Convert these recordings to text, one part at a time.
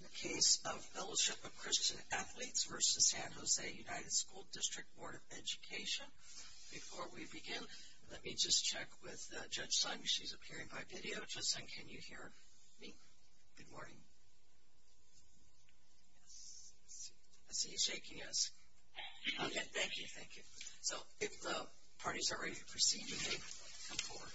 ns, San Jose Unified School District Board of Education of San Jose, California. of San Jose, California. Thank you. The United States Court of Appeals for the Ninth Circuit is now in session. Please be seated. Good morning and welcome to afternoon and welcome to the Ninth Circuit Court of Appeals. We are here to hear the case of Fellowship of Christian Athletes v. San Jose Unified School District Board of Education. Before we begin, let me just check with Judge Sung. She's appearing by video. Judge Sung, can you hear me? Good morning. I see you shaking hands. Okay, thank you. If the parties are ready to proceed, you may come forward.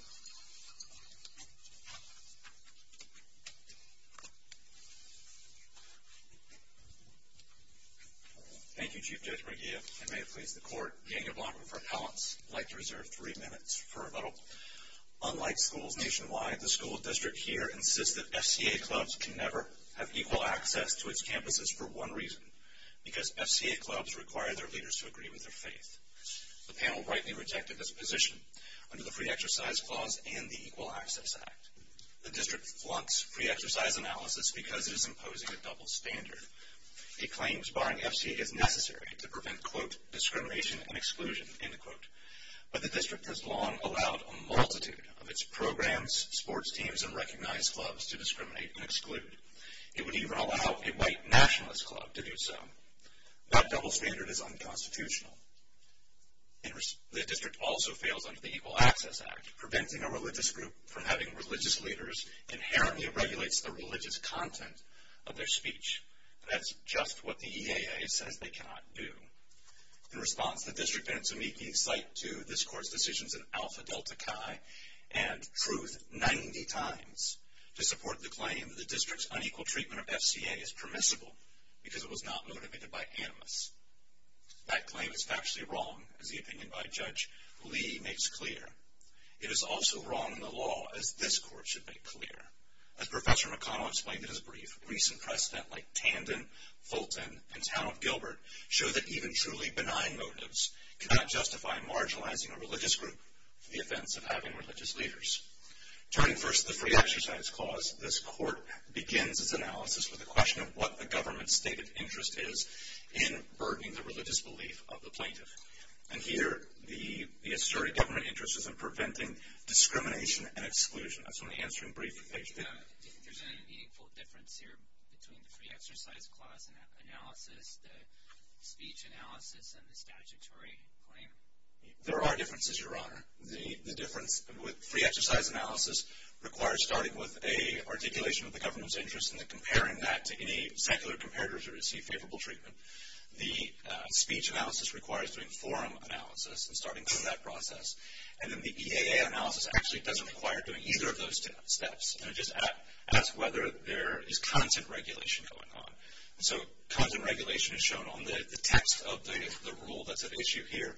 Thank you, Chief Judge McGeehan. May it please the Court, being a block of repellents, I'd like to reserve three minutes for a vote. Unlike schools nationwide, the school district here insists that SCA clubs can never have equal access to its campuses for one reason, because SCA clubs require their leaders to agree with their faith. The panel rightly rejected this position under the Free Exercise Clause and the Equal Access Act. The district wants free exercise analysis because it is imposing a double standard. It claims, barring SCA if necessary, to prevent, quote, discrimination and exclusion, end quote. But the district has long allowed a multitude of its programs, sports teams, and recognized clubs to discriminate and exclude. It would even allow a white nationalist club to do so. That double standard is unconstitutional. The district also failed under the Equal Access Act. Preventing a religious group from having religious leaders inherently regulates the religious content of their speech. That's just what the EAA says they cannot do. In response, the district bids me keep slight to this Court's decisions in Alpha Delta Chi and crude 90 times to support the claim that the district's unequal treatment of SCA is permissible because it was not motivated by analysts. That claim is actually wrong, as the opinion by Judge Lee makes clear. It is also wrong in the law, as this Court should make clear. As Professor McConnell explained in his brief, recent press stuff like Tandon, Fulton, and Town of Gilbert show that even truly benign motives cannot justify marginalizing a religious group to the offense of having religious leaders. Turning first to the Free Exercise Clause, this Court begins its analysis with a question of what the government's stated interest is in burdening the religious belief of the plaintiff. And here, the asserted government interest is in preventing discrimination and exclusion. There's any meaningful difference here between the Free Exercise Clause analysis, the speech analysis, and the statutory claim? There are differences, Your Honor. The difference with Free Exercise analysis requires starting with an articulation of the government's interest and then comparing that to any particular comparator to receive favorable treatment. The speech analysis requires doing forum analysis and starting through that process. And then the EAA analysis actually doesn't require doing either of those steps. It just asks whether there is content regulation going on. So content regulation is shown on the text of the rule that's at issue here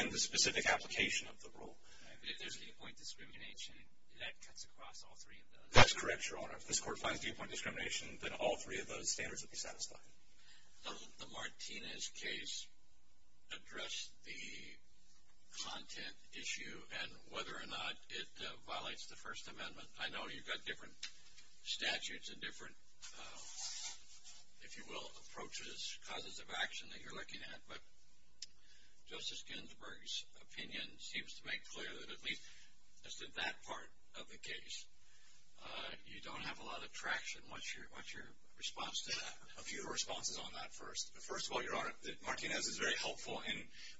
and the specific application of the rule. If there's viewpoint discrimination, that cuts across all three of those? That's correct, Your Honor. If this Court finds viewpoint discrimination, then all three of those standards would be satisfied. Does the Martinez case address the content issue and whether or not it violates the First Amendment? I know you've got different statutes and different, if you will, approaches, causes of action that you're looking at. But Justice Ginsburg's opinion seems to make clear that, at least in that part of the case, you don't have a lot of traction. What's your response to that? I'll give you the responses on that first. First of all, Your Honor, Martinez is very helpful in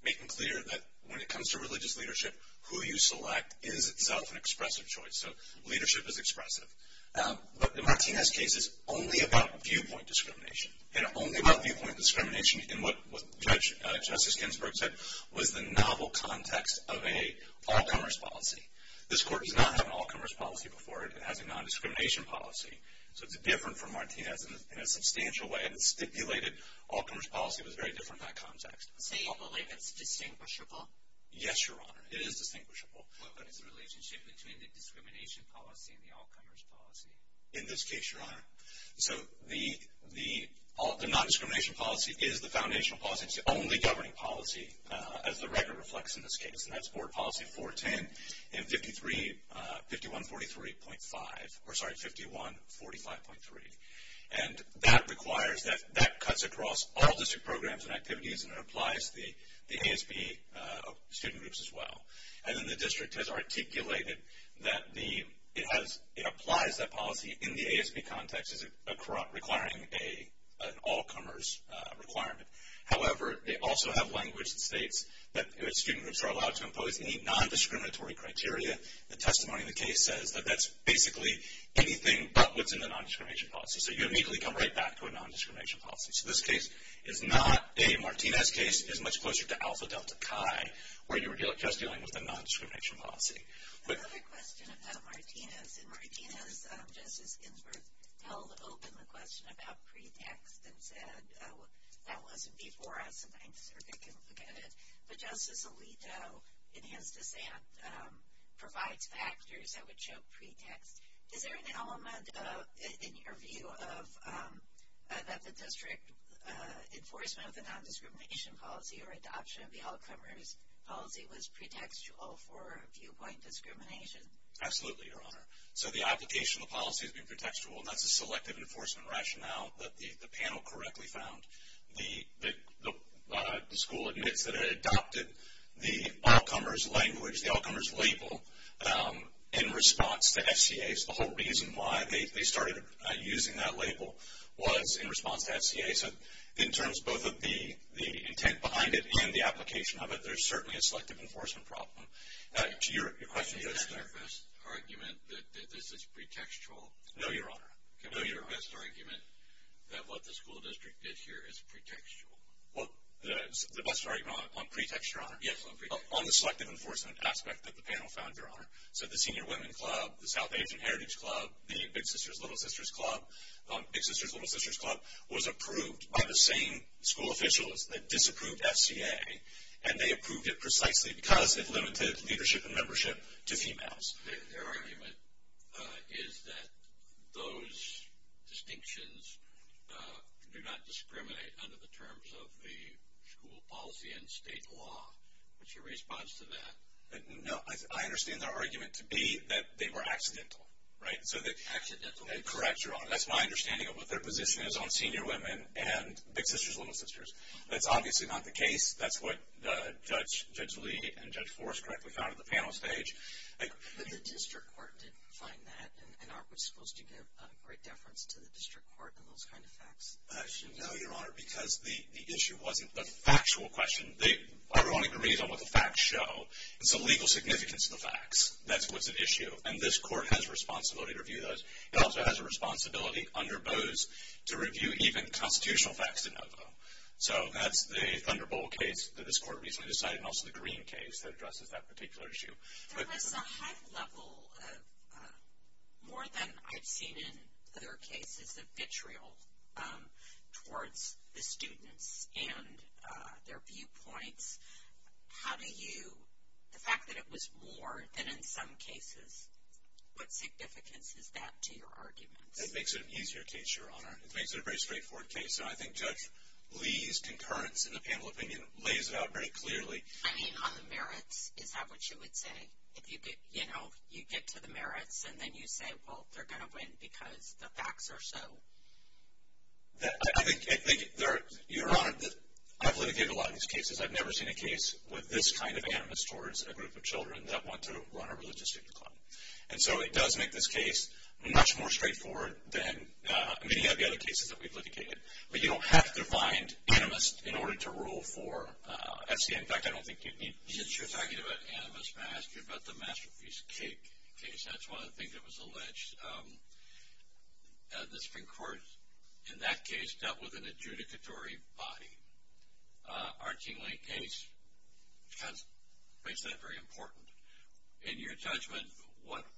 making clear that when it comes to religious leadership, who you select is not an expressive choice. So leadership is expressive. But the Martinez case is only about viewpoint discrimination. It's only about viewpoint discrimination in what Justice Ginsburg said was the novel context of an all-commerce policy. This Court does not have an all-commerce policy before. It has a nondiscrimination policy. So it's different from Martinez in a substantial way. The stipulated all-commerce policy was very different by context. Is it distinguishable? Yes, Your Honor, it is distinguishable. What is the relationship between the discrimination policy and the all-commerce policy? In this case, Your Honor, the nondiscrimination policy is the foundational policy. It's the only governing policy, as the record reflects in this case, and that's Board Policy 410. And 5143.5 or, sorry, 5145.3. And that requires that that cuts across all district programs and activities and applies to the ASB student groups as well. And then the district has articulated that it applies that policy in the ASB context requiring an all-commerce requirement. However, they also have language that states that student groups are allowed to impose any nondiscriminatory criteria. The testimony in the case says that that's basically anything but within the nondiscrimination policy. So you immediately come right back to a nondiscrimination policy. So this case is not a Martinez case. It's much closer to Alpha Delta Chi where you're just dealing with a nondiscrimination policy. I have a question about Martinez. In Martinez, Justice Ginsburg held open the question about pretext and said that wasn't before. I'm sorry. I can forget it. But Justice Alito, in his dissent, provides factors that would show pretext. Is there an element in your view that the district enforcement of the nondiscrimination policy or adoption of the all-commerce policy was pretextual for viewpoint discrimination? Absolutely, Your Honor. So the application of the policy is pretextual, not the selective enforcement rationale that the panel correctly found. The school admits that it adopted the all-commerce language, the all-commerce label, in response to SCAs. The whole reason why they started using that label was in response to SCAs. So in terms both of the intent behind it and the application of it, there's certainly a selective enforcement problem. To your question, is there a best argument that this is pretextual? No, Your Honor. No, Your Honor. Is there an argument that what the school district did here is pretextual? Well, I'm sorry. On pretext, Your Honor? Yes, on pretext. On the selective enforcement aspect that the panel found, Your Honor. So the Senior Women's Club, the South Asian Heritage Club, the Big Sisters, Little Sisters Club, Big Sisters, Little Sisters Club was approved by the same school officials that disapproved SCA, and they approved it precisely because it limited leadership and membership to females. Their argument is that those distinctions do not discriminate under the terms of the school policy and state law. What's your response to that? No, I understand their argument to be that they were accidental, right? Accidental? Correct, Your Honor. That's my understanding of what their position is on Senior Women and Big Sisters, Little Sisters. That's obviously not the case. That's what Judge Lee and Judge Forrest correctly found at the panel stage. The district court didn't find that, and I was supposed to give a great deference to the district court on those kind of facts. No, Your Honor, because the issue wasn't the factual questions. Everyone agreed on what the facts show. It's the legal significance of the facts. That's what the issue, and this court has a responsibility to review those. It also has a responsibility under those to review even constitutional facts to know them. So that's the Thunderbolt case that this court recently decided, and also the Green case that addresses that particular issue. That's a high level of more than I've seen in their case. It's a vitriol towards the students and their viewpoints. The fact that it was more than in some cases, what significance is that to your argument? It makes it an easier case, Your Honor. It makes it a very straightforward case. I think Judge Lee's concurrence in the panel opinion lays it out very clearly. I mean, on the merits, is that what you would say? You get to the merits, and then you say, well, they're going to win because the facts are so. I think, Your Honor, that I've litigated a lot of these cases. I've never seen a case with this kind of animus towards a group of children that want to run a religious student club. And so it does make this case much more straightforward than many of the other cases that we've litigated. But you don't have to bind animus in order to rule for SCA. In fact, I don't think it needs to. You were talking about animus, and I asked you about the Masterpiece case. That's one of the things that was alleged. The Supreme Court, in that case, dealt with an adjudicatory body. Our team late case has raised that very important. In your judgment, what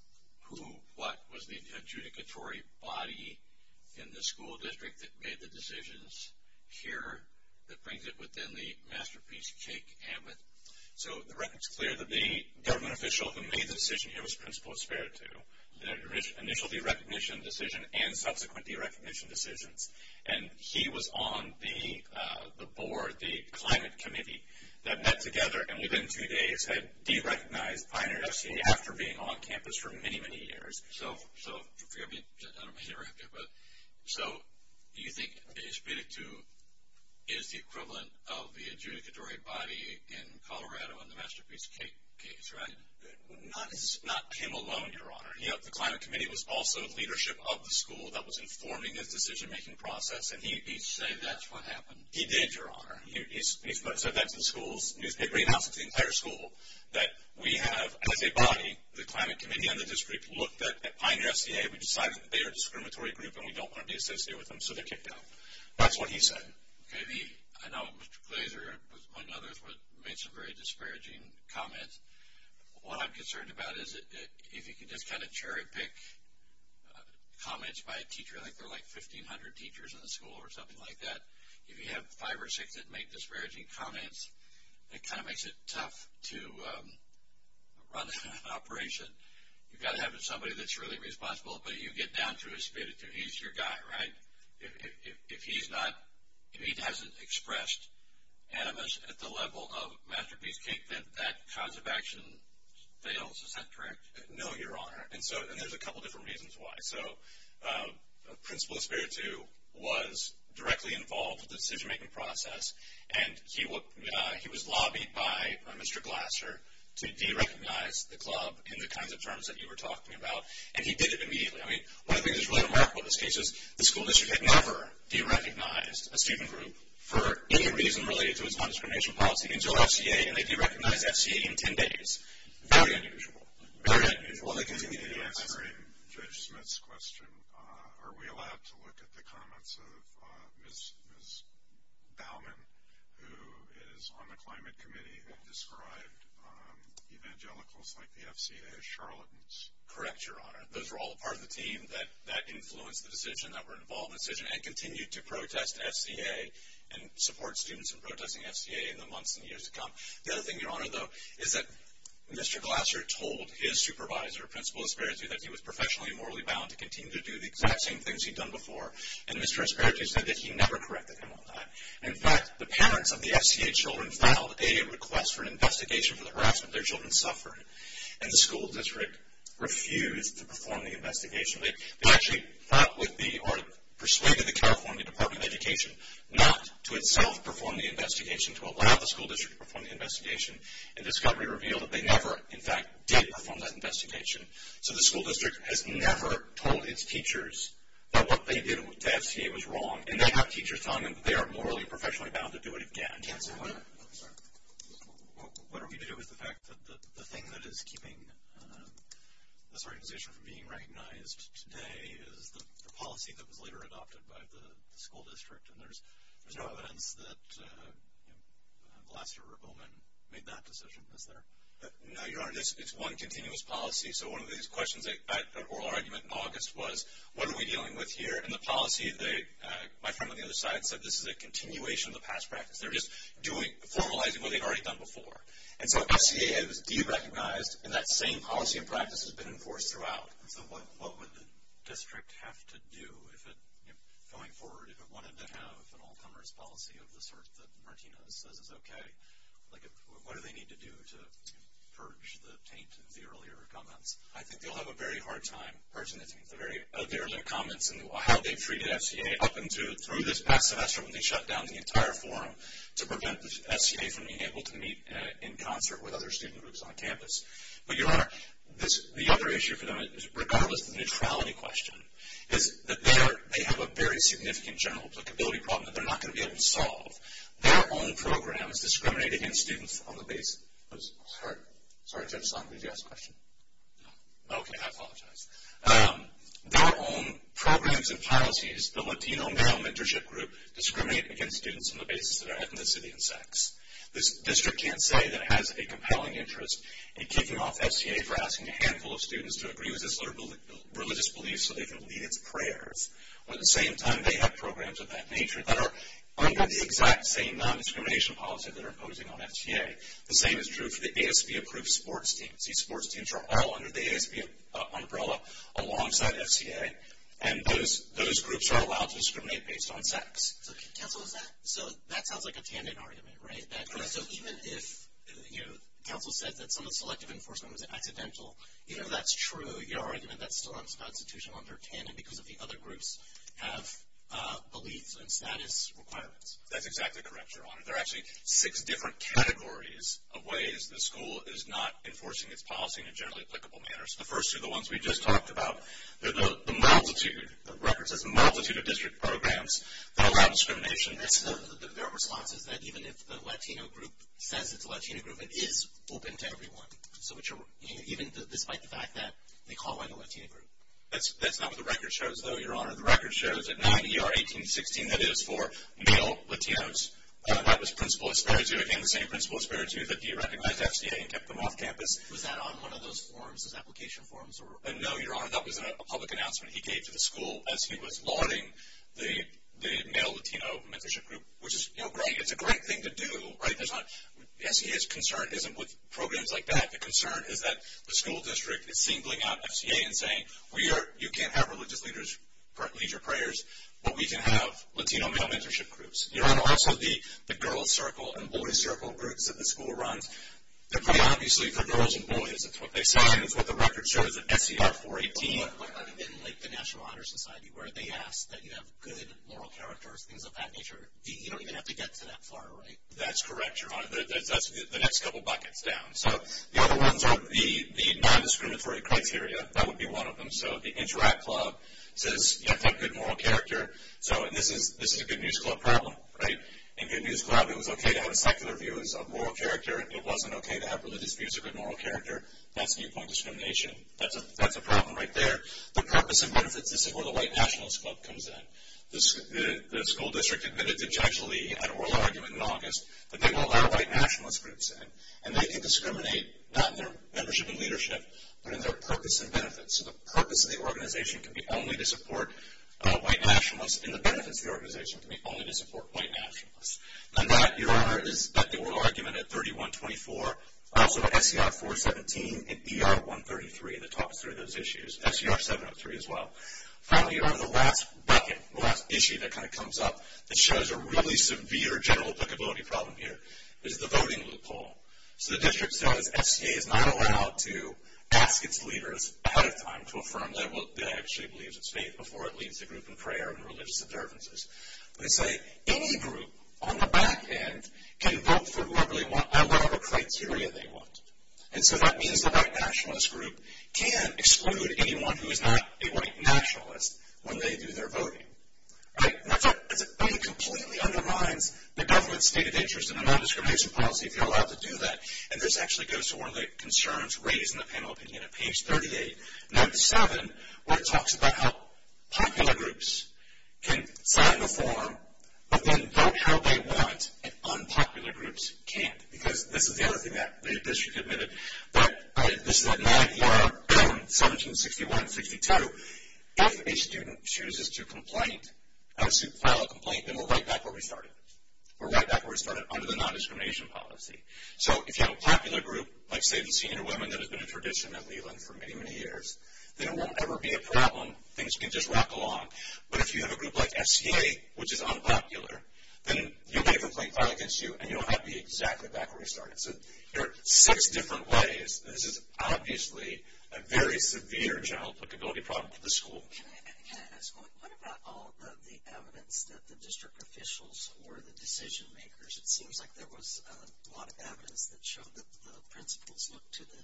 was the adjudicatory body in the school district that made the decisions here that brings it within the Masterpiece case? It's clear that the government official who made the decision here was Principal Espiritu, the initial derecognition decision and subsequent derecognition decisions. And he was on the board, the climate committee that met together and within three days had derecognized Pioneer SCA after being on campus for many, many years. So do you think Espiritu is the equivalent of the adjudicatory body in Colorado in the Masterpiece case? Not him alone, Your Honor. The climate committee was also the leadership of the school that was informing the decision-making process, and he said that's what happened. He did, Your Honor. He said that in schools. He announced to the entire school that we have an adjudicatory body. The climate committee and the district looked at Pioneer SCA and decided that they are a discriminatory group and we don't want to be associated with them, so they kicked out. That's what he said. I know later one of the others made some very disparaging comments. What I'm concerned about is if you can just kind of cherry-pick comments by a teacher, I think there were like 1,500 teachers in the school or something like that, and if you have five or six that make disparaging comments, it kind of makes it tough to run an operation. You've got to have somebody that's really responsible. But you get down to Espiritu. He's your guy, right? If he hasn't expressed animus at the level of Masterpiece case, then that cause of action fails. Is that correct? No, Your Honor. And there's a couple different reasons why. So Principal Espiritu was directly involved in the decision-making process, and he was lobbied by Mr. Glasser to derecognize the club in the kinds of terms that you were talking about, and he did it immediately. I mean, one of the things that's really remarkable in this case is the school district had never derecognized a student group for any reason related to its consternation policy until SCA, and they derecognized SCA in 10 days. Very unusual. While they continue to be answering Judge Smith's question, are we allowed to look at the comments of Ms. Baumann, who is on the Climate Committee, that described evangelicals like the FCA as charlatans? Correct, Your Honor. Those are all part of the team that influenced the decision, that were involved in the decision, and continue to protest SCA and support students in protesting SCA in the months and years to come. The other thing, Your Honor, though, is that Mr. Glasser told his supervisor, Principal Espiritu, that he was professionally and morally bound to continue to do the exact same things he'd done before, and Mr. Espiritu said that he never corrected him on that. In fact, the parents of the SCA children found out that they had a request for an investigation for the harassment their children suffered, and the school district refused to perform the investigation. They actually thought it would be or persuaded the California Department of Education not to itself perform the investigation, to allow the school district to perform the investigation, and discovery revealed that they never, in fact, did perform that investigation. So the school district has never told its teachers that what they did with the SCA was wrong, and they have teachers telling them they are morally and professionally bound to do it again. What are we to do with the fact that the thing that is keeping this organization from being recognized today is the policy that was later adopted by the school district, and there's no evidence that Glasser or Bowman made that decision, is there? No, Your Honor. It's one continuous policy. So one of the questions at the oral argument in August was, what are we dealing with here? And the policy, my friend on the other side said this is a continuation of the past practice. They're just formalizing what they've already done before. And so the question is, do you recognize, and that same policy and practice has been enforced throughout, what would the district have to do going forward if it wanted to have an all-comers policy of the sort that Martina says is okay? Like what do they need to do to purge the taint of the earlier comments? I think you'll have a very hard time purging the taint of the earlier comments and how they treated SCA up and through this past semester when they shut down the entire forum to prevent the SCA from being able to meet in concert with other student groups on campus. But, Your Honor, the other issue for them, regardless of the neutrality question, is that they have a very significant general applicability problem that they're not going to be able to solve. Their own programs discriminate against students on the basis of their ethnicity and sex. The district can't say that it has a compelling interest in kicking off SCA for asking a handful of students to agree with their religious beliefs so they can lead in prayers. At the same time, they have programs of that nature that are under the exact same non-discrimination policy that they're imposing on SCA. The same is true for the ASB-approved sports teams. These sports teams are all under the ASB umbrella alongside SCA, and those groups are allowed to discriminate based on sex. So that sounds like a tandem argument, right? So even if, you know, Campbell said that some of the selective enforcement was accidental, you know, that's true. Your Honor, that's still unconstitutional under tandem because the other groups have beliefs and status requirements. That's exactly correct, Your Honor. There are actually six different categories of ways the school is not enforcing its policy in generally applicable manners. The first are the ones we just talked about. The multitude, the record says the multitude of district programs that allow discrimination. Their response is that even if the Latino group says it's a Latino group, it is open to everyone, even despite the fact that they call it a Latino group. That's not what the record shows, though, Your Honor. The record shows that 90 are 18-16. That is for male Latinos. That was principle aspired to. Again, the same principle aspired to, that you recognized SCA and kept them off campus. Was that on one of those forms, those application forms? No, Your Honor. That was a public announcement he gave to the school as he was lauding the male Latino mentorship group, which is great. It's a great thing to do. SCA's concern isn't with programs like that. The concern is that the school district is singling out SCA and saying, you can't have religious leaders for our leisure prayers, but we can have Latino male mentorship groups. There are also the girls circle and boys circle groups that the school runs. Obviously, for girls and boys, it's what they say, and it's what the record shows, that SCA is for 18 in the National Honor Society, where they ask that you have good moral character or things of that nature. You don't even have to get to that far, right? That's correct, Your Honor. That's the next couple buckets down. So the other ones are the non-discriminatory criteria. That would be one of them. So the interact club says you have to have good moral character, so it isn't a good musical club problem. If it was a good musical club, it was okay to have a secular view of moral character. If it wasn't okay to have religious views of good moral character, that's viewpoint discrimination. That's a problem right there. The purpose and benefits of where the white nationalist club comes in. The school district admitted objectionably in an oral argument in August that they won't allow white nationalists groups in, and they can discriminate not in their mentorship and leadership but in their purpose and benefits. So the purpose of the organization can be only to support white nationalists and the benefits of the organization can be only to support white nationalists. And that, Your Honor, is the oral argument at 3124. Also SCR 417 and ER 133, and it talks through those issues. SCR 703 as well. Finally, Your Honor, the last bucket, the last issue that kind of comes up that shows a really severe general applicability problem here is the voting loophole. So the district says SGA is not allowed to ask its leaders at a time to affirm that it actually believes it's safe before it leads the group in prayer and religious observances. They say any group on the back end can vote for whoever criteria they want. And so that means the white nationalist group can't exclude anyone who is not a white nationalist when they do their voting. That doesn't completely undermine the government's stated interest in a non-discrimination policy if you're allowed to do that, and this actually goes to one of the concerns raised in the panel opinion at page 38, number seven, where it talks about how popular groups can plan a forum but then vote how they want and unpopular groups can't, because they don't do that. The district admitted. But this is what my, Your Honor, comments in 61 and 62. If a student chooses to file a complaint, then we're right back where we started. We're right back where we started under the non-discrimination policy. So if you have a popular group, like, say, the senior women, that has been a tradition at Leland for many, many years, then it won't ever be a problem. Things can just rock along. But if you have a group like SCA, which is unpopular, then you make a complaint filed against you, and you don't have to be exactly back where you started. So there are six different ways. This is obviously a very severe general applicability problem for the school. What about all the evidence that the district officials or the decision-makers, which it seems like there was a lot of evidence that showed that principals looked to the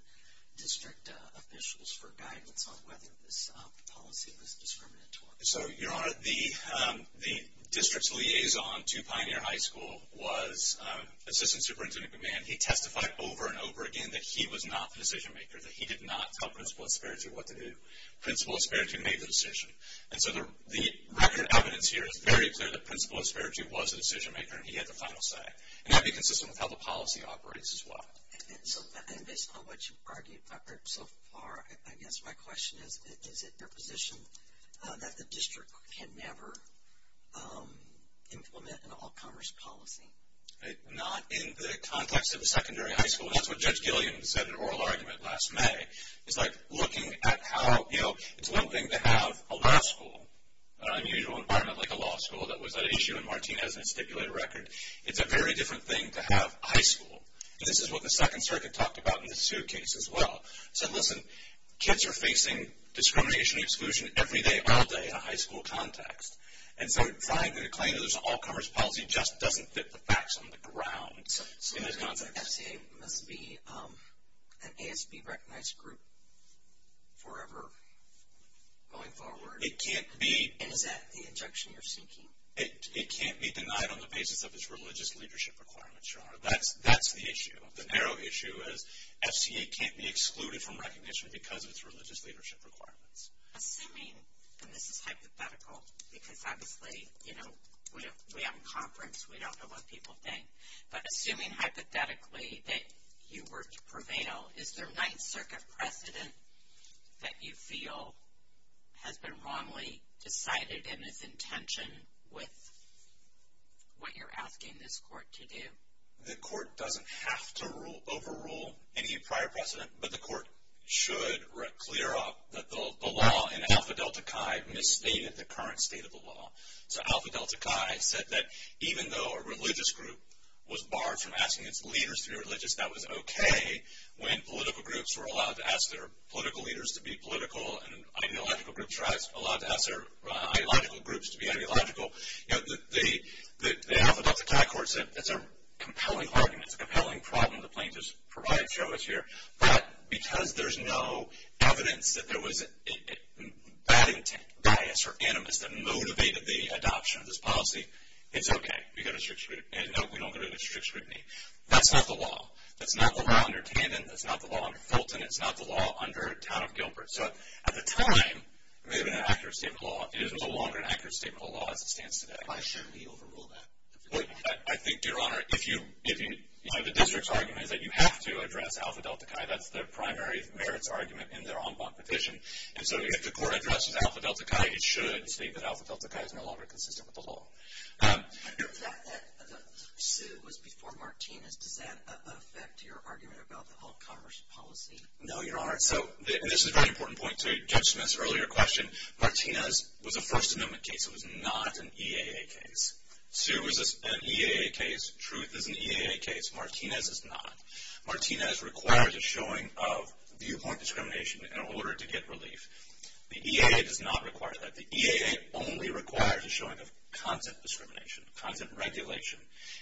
district officials for guidance on whether this policy was discriminatory? So, Your Honor, the district's liaison to Pioneer High School was Assistant Superintendent of Command. He testified over and over again that he was not the decision-maker, that he did not tell Principal Asperger what to do. Principal Asperger made the decision. And so the record of evidence here is very clear that Principal Asperger was the decision-maker, and he had the final say. And that would be consistent with how the policy operates as well. So based on what you've argued so far, I guess my question is, is it your position that the district can never implement an all-commerce policy? Not in the context of the secondary high school. That's what Judge Gilliam said in an oral argument last May. It's like looking at how, you know, it's one thing to have a law school, an unusual environment like a law school. That was an issue in Martinez's stipulated record. It's a very different thing to have a high school. And this is what the Second Circuit talked about in the suit case as well. It said, listen, kids are facing discrimination and exclusion every day, all day, in a high school context. And so trying to claim that there's an all-commerce policy just doesn't fit the facts on the ground. So it's not the SBA. It can't be recognized group forever going forward. It can't be. Is that the objection you're seeking? It can't be denied on the basis of its religious leadership requirements. That's the issue. The narrow issue is SBA can't be excluded from recognition because of its religious leadership requirements. Assuming, and this is hypothetical, because obviously, you know, we have a conference. We don't know what people think. But assuming hypothetically that you were to prevail, is there a Ninth Circuit precedent that you feel has been wrongly decided in its intention with what you're asking this court to do? The court doesn't have to overrule any prior precedent, but the court should clear off the law in Alpha Delta Chi from the state of the current state of the law. So Alpha Delta Chi said that even though a religious group was barred from asking its leaders to be religious, that was okay when political groups were allowed to ask their political leaders to be political and ideological groups were allowed to ask their ideological groups to be ideological. You know, the Alpha Delta Chi court said that's a compelling argument, it's a compelling problem the plaintiffs provide to us here. But because there's no evidence that there was bad intent, bias, or animus that motivated the adoption of this policy, it's okay. We get a strict scrutiny. And no, we don't get a strict scrutiny. That's not the law. That's not the law under Tandon. That's not the law under Fulton. It's not the law under the town of Gilbert. So at the time, the accuracy of the law is no longer an accuracy of the law as it stands today. Why shouldn't we overrule that? I think, Your Honor, if the district's argument is that you have to address Alpha Delta Chi, that's the primary merits argument in their en banc petition. And so if the court addresses Alpha Delta Chi, it should state that Alpha Delta Chi is no longer consistent with the law. The fact that Sue was before Martinez, does that affect your argument about the health commerce policy? No, Your Honor. So this is a very important point to Judge Smith's earlier question. Martinez was a First Amendment case. It was not an EAA case. Sue was an EAA case. Truth is an EAA case. Martinez is not. Martinez requires a showing of viewpoint discrimination in order to get relief. The EAA does not require that. The EAA only requires a showing of content discrimination, content regulation.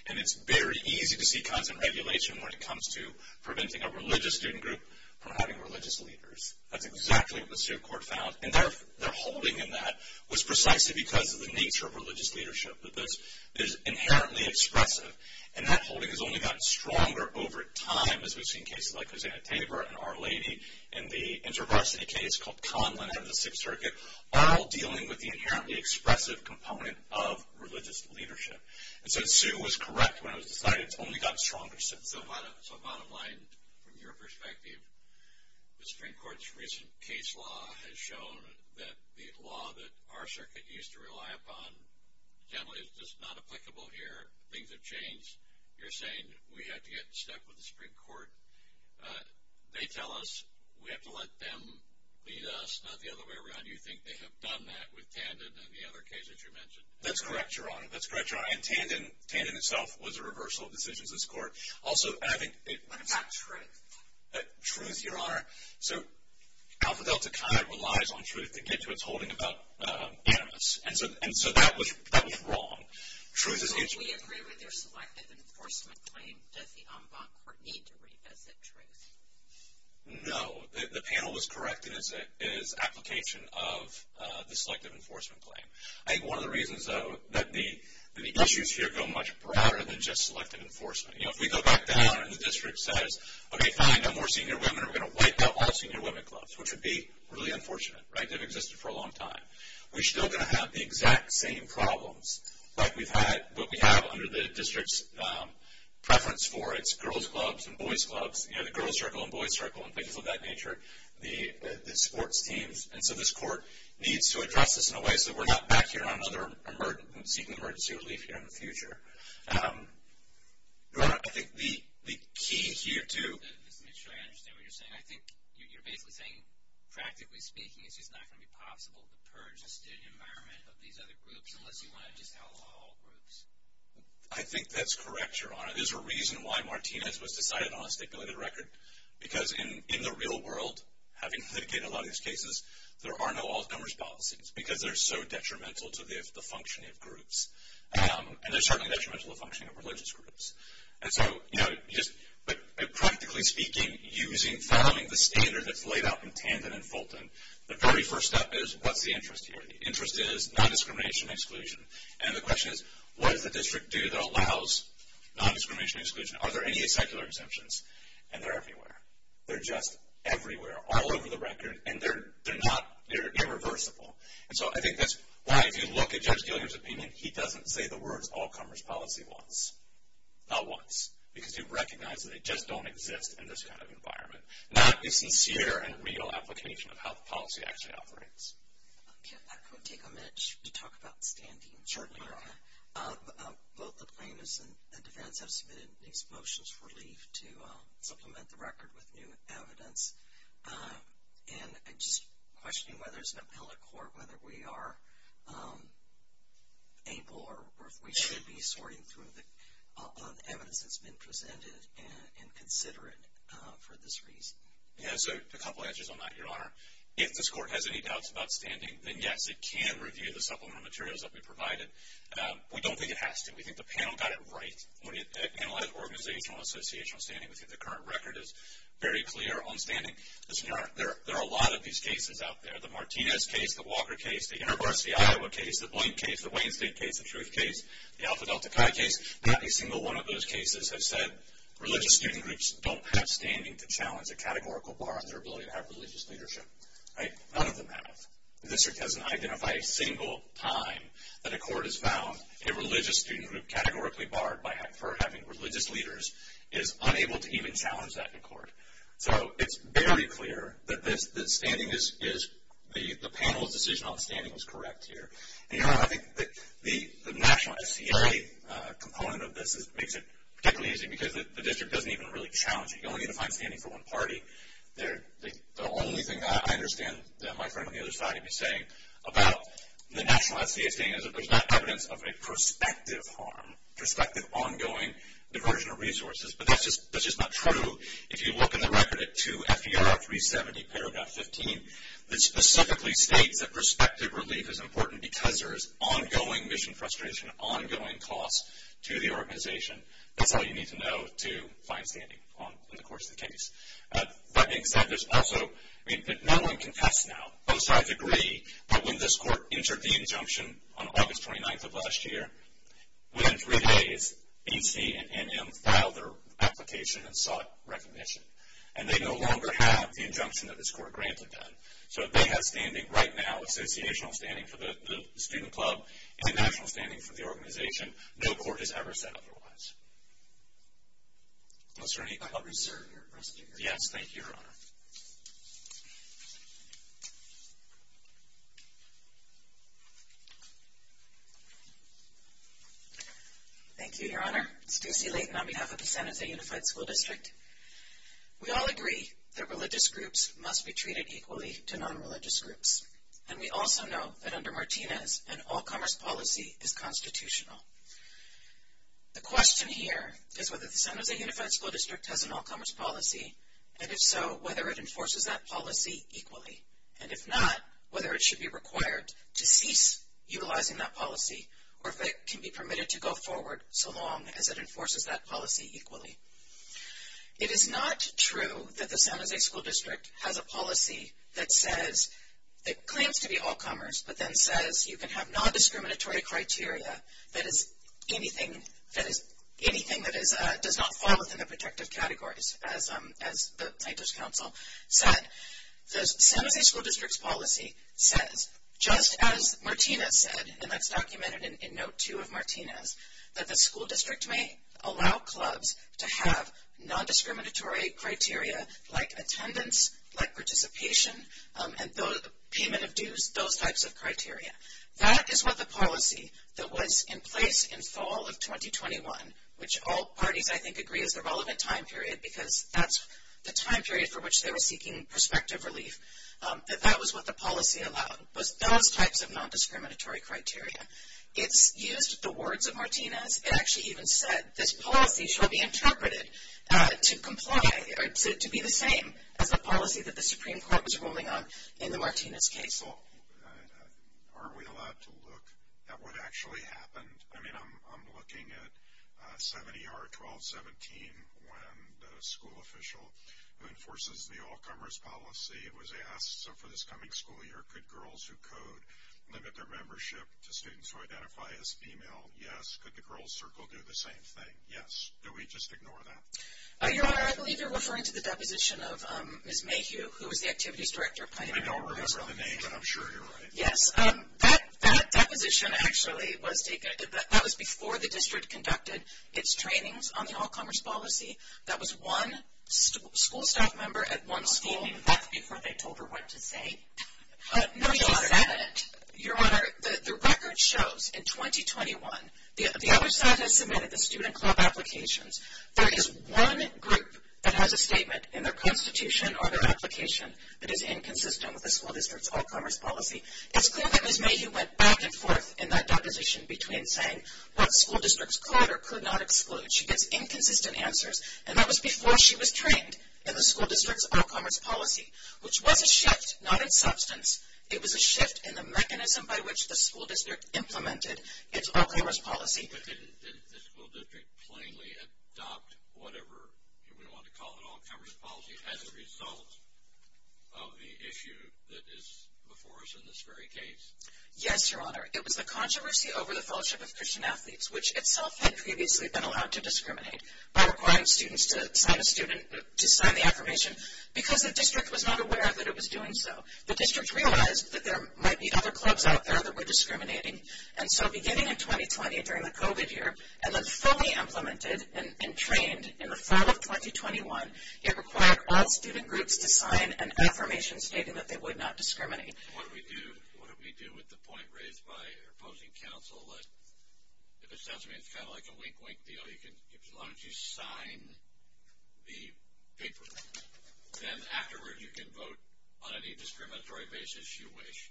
And it's very easy to see content regulation when it comes to preventing a religious student group from having religious leaders. That's exactly what the suit court found. And their holding in that was precisely because of the nature of religious leadership. This is inherently expressive. And that holding has only gotten stronger over time as we've seen cases like Lizanne Tabor and Our Lady in the InterVarsity case called Conlin and the Fifth Circuit, all dealing with the inherently expressive component of religious leadership. And so Sue was correct when it was decided it's only gotten stronger. So bottom line, from your perspective, the Supreme Court's recent case law has shown that the law that our circuit used to rely upon generally is just not applicable here. Things have changed. You're saying we have to get stuck with the Supreme Court. They tell us we have to let them lead us, not the other way around. Do you think they have done that with Tandon and the other cases you mentioned? That's correct, Your Honor. That's correct, Your Honor. And Tandon itself was a reversal of decisions in this court. Also, I think it's true, Your Honor, so Alpha Delta kind of relies on truth to get to its holding about campus. And so that was wrong. So we agree with your selective enforcement claim that the en banc court need to revisit, right? No. The panel is correct. It is application of the selective enforcement claim. I think one of the reasons, though, that the issues here go much broader than just selective enforcement. You know, if we go back down and the district says, okay, find no more senior women or we're going to wipe out all senior women clubs, which would be really unfortunate, right? They've existed for a long time. We're still going to have the exact same problems like what we have under the district's preference for. It's girls' clubs and boys' clubs, you know, the girls' circle and boys' circle and things of that nature, the sports teams. And so this court needs to address this in a way so we're not back here on other emergencies, seeking emergency relief here in the future. Your Honor, I think the key here to make sure I understand what you're saying, I think you're basically saying, practically speaking, it's not going to be possible to purge the student environment of these other groups unless you want to just outlaw all groups. I think that's correct, Your Honor. There's a reason why Martinez was decided on a stipulated record, because in the real world, having communicated a lot of these cases, there are no outlawed numbers policies because they're so detrimental to the functioning of groups, and they're so detrimental to the functioning of religious groups. And so, you know, just practically speaking, following the standard that's laid out from Tandon and Fulton, the very first step is, what's the interest here? The interest is non-discrimination exclusion. And the question is, what does the district do that allows non-discrimination exclusion? Are there any secular exemptions? And they're everywhere. They're just everywhere, all over the record, and they're irreversible. And so I think that's why, if you look at Judge Gilliam's opinion, he doesn't say the words all-commerce policy once, not once, because you recognize that they just don't exist in this kind of environment, not the sincere and real application of how the policy actually operates. Can I take a minute to talk about the standing? Sure, Your Honor. Both the plaintiffs and defendants have submitted these motions for relief to supplement the record with new evidence. And I'm just questioning whether it's an appellate court, whether we are able or we should be sorting through the evidence that's been presented and consider it for this reason. Yes, a couple answers on that, Your Honor. If this court has any doubts about standing, then, yes, it can review the supplement materials that we provided. We don't think it has to. We think the panel got it right when it analyzed organizational and associational standing, because the current record is very clear on standing. There are a lot of these cases out there, the Martinez case, the Walker case, the Intergrants of the Iowa case, the Boynt case, the Wayne State case, the Truth case, the Alpha Delta Chi case. Not a single one of those cases has said religious student groups don't have standing to challenge a categorical bar on their ability to have religious leadership. None of them have. The district doesn't identify a single time that a court has found a religious student group categorically barred for having religious leaders is unable to even challenge that in court. So it's very clear that the panel's decision on standing is correct here. And, Your Honor, I think the national SCA component of this makes it particularly easy, because the district doesn't even really challenge it. You only need to find standing for one party. The only thing I understand that my friend on the other side is saying about the national SCA is that there's not evidence of a prospective harm, prospective ongoing diversion of resources. But that's just not true. If you look in the record at 2 FER 370 paragraph 15, it specifically states that prospective relief is important because there is ongoing mission frustration, ongoing cost to the organization. That's all you need to know to find standing in the course of the case. But there's also no one can test now. Both sides agree that when this court entered the injunction on August 29th of last year, within three days, BC and NM filed their application and sought recognition. And they no longer have the injunction that this court granted them. So they have standing right now, associational standing for the student club and national standing for the organization. No court has ever said otherwise. Is there anybody else? Yes, thank you, Your Honor. Thank you, Your Honor. Suzy Layton on behalf of the Senate Unified School District. We all agree that religious groups must be treated equally to nonreligious groups. And we also know that under Martinez, an all commerce policy is constitutional. The question here is whether the Senate Unified School District has an all commerce policy, and if so, whether it enforces that policy equally. And if not, whether it should be required to cease utilizing that policy or if it can be permitted to go forward so long as it enforces that policy equally. It is not true that the Senate Unified School District has a policy that says it claims to be all commerce, but then says you can have non-discriminatory criteria. That is, anything that does not fall within a protective category, as my just counsel said. The Senate Unified School District's policy says, just as Martinez said, and that's documented in Note 2 of Martinez, that the school district may allow clubs to have non-discriminatory criteria like attendance, like participation, and payment of dues, those types of criteria. That is what the policy that was in place in fall of 2021, which all parties I think agreed is the relevant time period because that's the time period for which they were seeking prospective relief. That was what the policy allowed, was those types of non-discriminatory criteria. It used the words of Martinez. It actually even said, this policy shall be interpreted to comply or to be the same as the policy that the Supreme Court was ruling on in the Martinez case. Aren't we allowed to look at what actually happened? I mean, I'm looking at 7ER-1217 when the school official who enforces the all commerce policy was asked, so for this coming school year, could girls who code limit their membership to students who identify as female? Yes. Could the girls circle do the same thing? Yes. Do we just ignore that? Your Honor, I believe you're referring to the deposition of Ms. Mayhew, who was the activities director of Planned Parenthood. I don't remember the name, but I'm sure you're right. Yes. That deposition actually was before the district conducted its trainings on the all commerce policy. That was one school staff member at one school, and that's before they told her what to say. Your Honor, the record shows in 2021, the other side that submitted the student club applications, there is one group that has a statement in their constitution or their application that is inconsistent with the school district's all commerce policy, and it's clear that Ms. Mayhew went back and forth in that deposition between saying what the school district's charter could not include. She gets inconsistent answers, and that was before she was trained in the school district's all commerce policy, which was a shift, not in substance. It was a shift in the mechanism by which the school district implemented its all commerce policy. But didn't the school district plainly adopt whatever, you wouldn't want to call it an all commerce policy, as a result of the issue that is before us in this very case? Yes, Your Honor. It was a controversy over the fellowship of Christian athletes, which itself had previously been allowed to discriminate by requiring students to sign the application. Because the district was not aware that it was doing so. The district realized that there might be other clubs out there that were discriminating. And so beginning in 2020, during the COVID year, and then fully implemented and trained in the fall of 2021, it required all student groups to sign an affirmation stating that they would not discriminate. What do we do with the point raised by opposing counsel? It sounds to me kind of like a wink-wink deal. If you wanted to sign the paper, then afterward you can vote on any discriminatory basis you wish.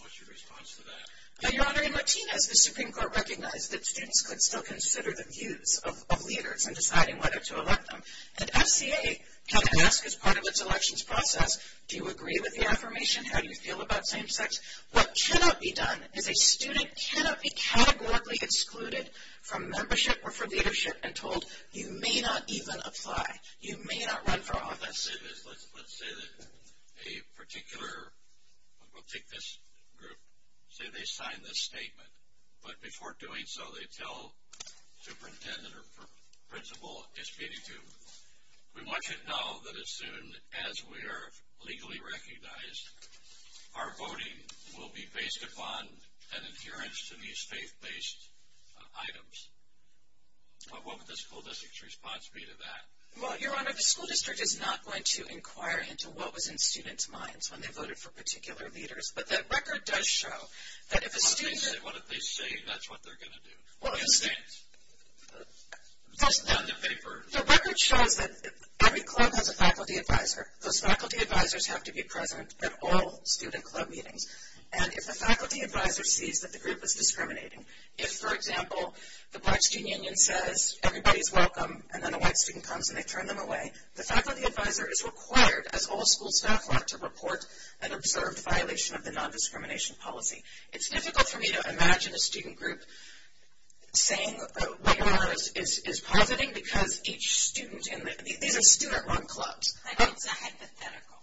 What's your response to that? Your Honor, in Martinez, the Supreme Court recognized that students could still consider the views of leaders in deciding whether to elect them. And SCA came to ask as part of its elections process, do you agree with the affirmation, how you feel about same-sex? What should not be done is a student should not be categorically excluded from membership or from leadership and told, you may not even apply. You may not run for office. Let's say that a particular group, say they sign this statement. But before doing so, they tell superintendent or principal, we want you to know that as soon as we are legally recognized, our voting will be based upon an adherence to these state-based items. What would the school district's response be to that? Well, Your Honor, the school district is not going to inquire into what was in students' minds when they voted for particular leaders. But that record does show that if a student… What if they say that's what they're going to do? The record shows that every club has a faculty advisor. Those faculty advisors have to be present at all student club meetings. And if the faculty advisor sees that the group is discriminating, if, for example, the Black Student Union says everybody is welcome, and then a white student comes and they turn them away, the faculty advisor is required, as all school staff are, to report an observed violation of the nondiscrimination policy. It's difficult for me to imagine a student group saying a webinar is positive because each student in a student-run club… I know it's not hypothetical.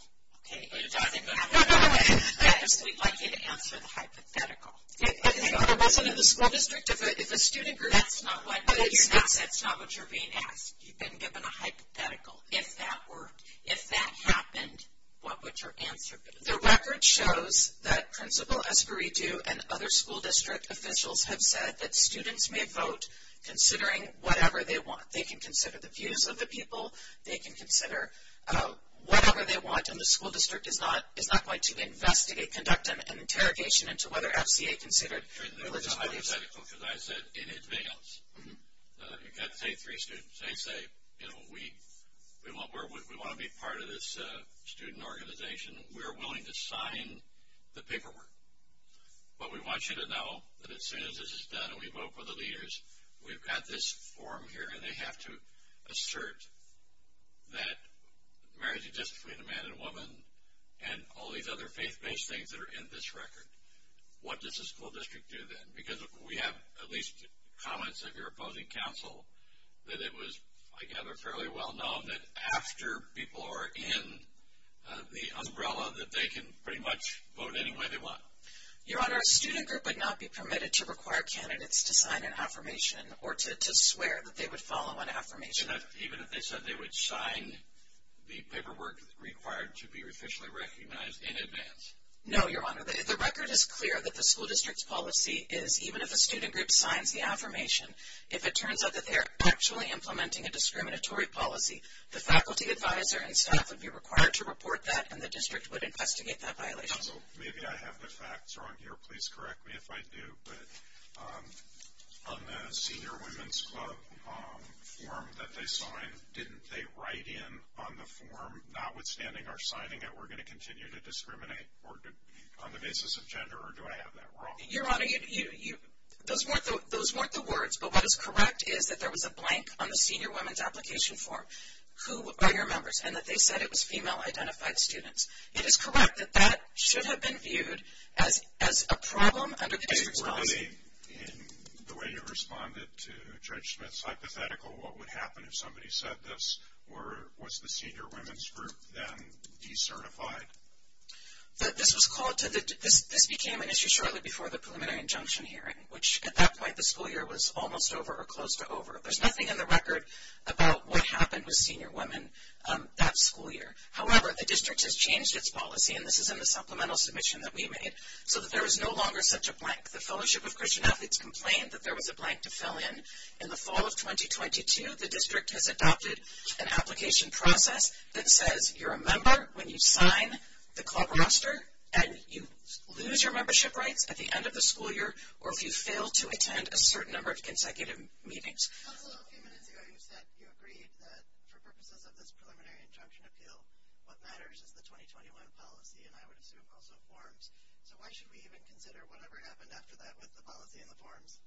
Okay. No, no, no. We'd like you to count for the hypothetical. Okay. I wasn't in the school district. If a student group… That's not what… No, you're not. That's not what you're being asked. You've been given a hypothetical. If that were… If that happened, what would your answer be? The record shows that Principal Esparidu and other school district officials have said that the students may vote, considering whatever they want. They can consider the views of the people. They can consider whatever they want, and the school district is not going to investigate, conduct an interrogation, into whether SBA considered… That's not hypothetical, because I said in advance, if you've got three students, say, you know, we want to be part of this student organization. We are willing to sign the paperwork, but we want you to know that as soon as this is done and we vote for the leaders, we've got this form here, and they have to assert that marriage exists between a man and a woman and all these other faith-based things that are in this record. What does the school district do then? Because we have at least comments of your opposing counsel that it was, I gather, fairly well-known that after people are in the umbrella that they can pretty much vote any way they want. Your Honor, a student group would not be permitted to require candidates to sign an affirmation or to swear that they would follow an affirmation. Even if they said they would sign the paperwork required to be officially recognized in advance? No, Your Honor. The record is clear that the school district's policy is, even if a student group signs the affirmation, if it turns out that they are actually implementing a discriminatory policy, the faculty advisor and staff would be required to report that and the district would investigate that violation. Also, maybe I have the facts wrong here. Please correct me if I do. But on the Senior Women's Club form that they signed, didn't they write in on the form, notwithstanding our signing it, that we're going to continue to discriminate on the basis of gender, or do I have that wrong? Your Honor, those weren't the words. But what is correct is that there was a blank on the Senior Women's Application form who are your members, and that they said it was female-identified students. It is correct that that should have been viewed as a problem. In the way you responded to Judge Smith's hypothetical, what would happen if somebody said this? Or was the Senior Women's Group then decertified? This became an issue shortly before the preliminary injunction hearing, which at that point the school year was almost over or close to over. There's nothing in the record about what happened with senior women that school year. However, the district has changed its policy, and this is in the supplemental submission that we made, so that there is no longer such a blank. The Fellowship of Christian Ethics complained that there was a blank to fill in. In the fall of 2022, the district has adopted an application process that says you're a member when you sign the club roster, and you lose your membership rights at the end of the school year or if you fail to attend a certain number of consecutive meetings. A few minutes ago you said you agreed that for purposes of this preliminary injunction appeal, what matters is the 2021 policy, and I would assume also forms. So why should we even consider whatever happens after that with the policy and the forms?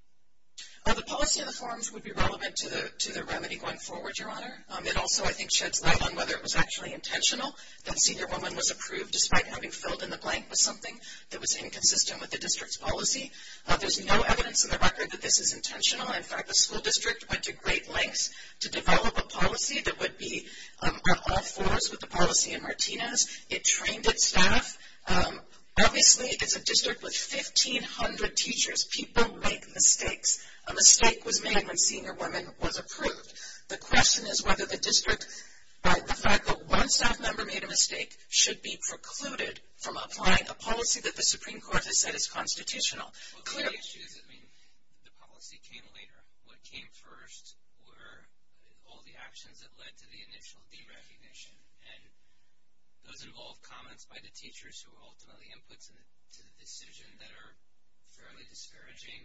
The policy and the forms would be relevant to the remedy going forward, Your Honor. It also, I think, sheds light on whether it was actually intentional that a senior woman was approved despite having filled in the blank with something that was inconsistent with the district's policy. There's no evidence in the record that this was intentional. In fact, the school district went to great lengths to develop a policy that would be on all fours with the policy in Martinez. It trained its staff. Obviously, it's a district with 1,500 teachers. People make mistakes. A mistake was made when a senior woman was approved. The question is whether the district, by the fact that once that member made a mistake, should be precluded from applying a policy that the Supreme Court has said is constitutional. The policy came later. What came first were all the actions that led to the initial deregulation, and those involved comments by the teachers who were ultimately input to the decision that are fairly disparaging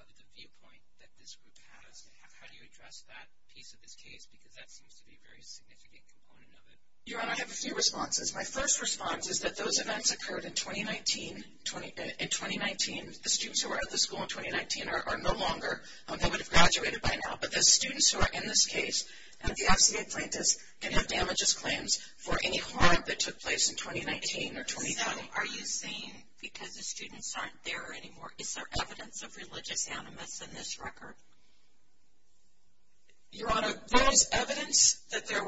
of the viewpoint that this group has. How do you address that piece of this case? Because that seems to be a very significant component of it. Your Honor, I have a few responses. My first response is that those events occurred in 2019. In 2019, the students who were out of the school in 2019 are no longer. They would have graduated by now. But the students who are in this case have the FCA plaintiffs and have damages claims for any harm that took place in 2019 or 2019. Are you saying because the students aren't there anymore, it's their evidence of religious animus in this record? Your Honor, there is evidence that there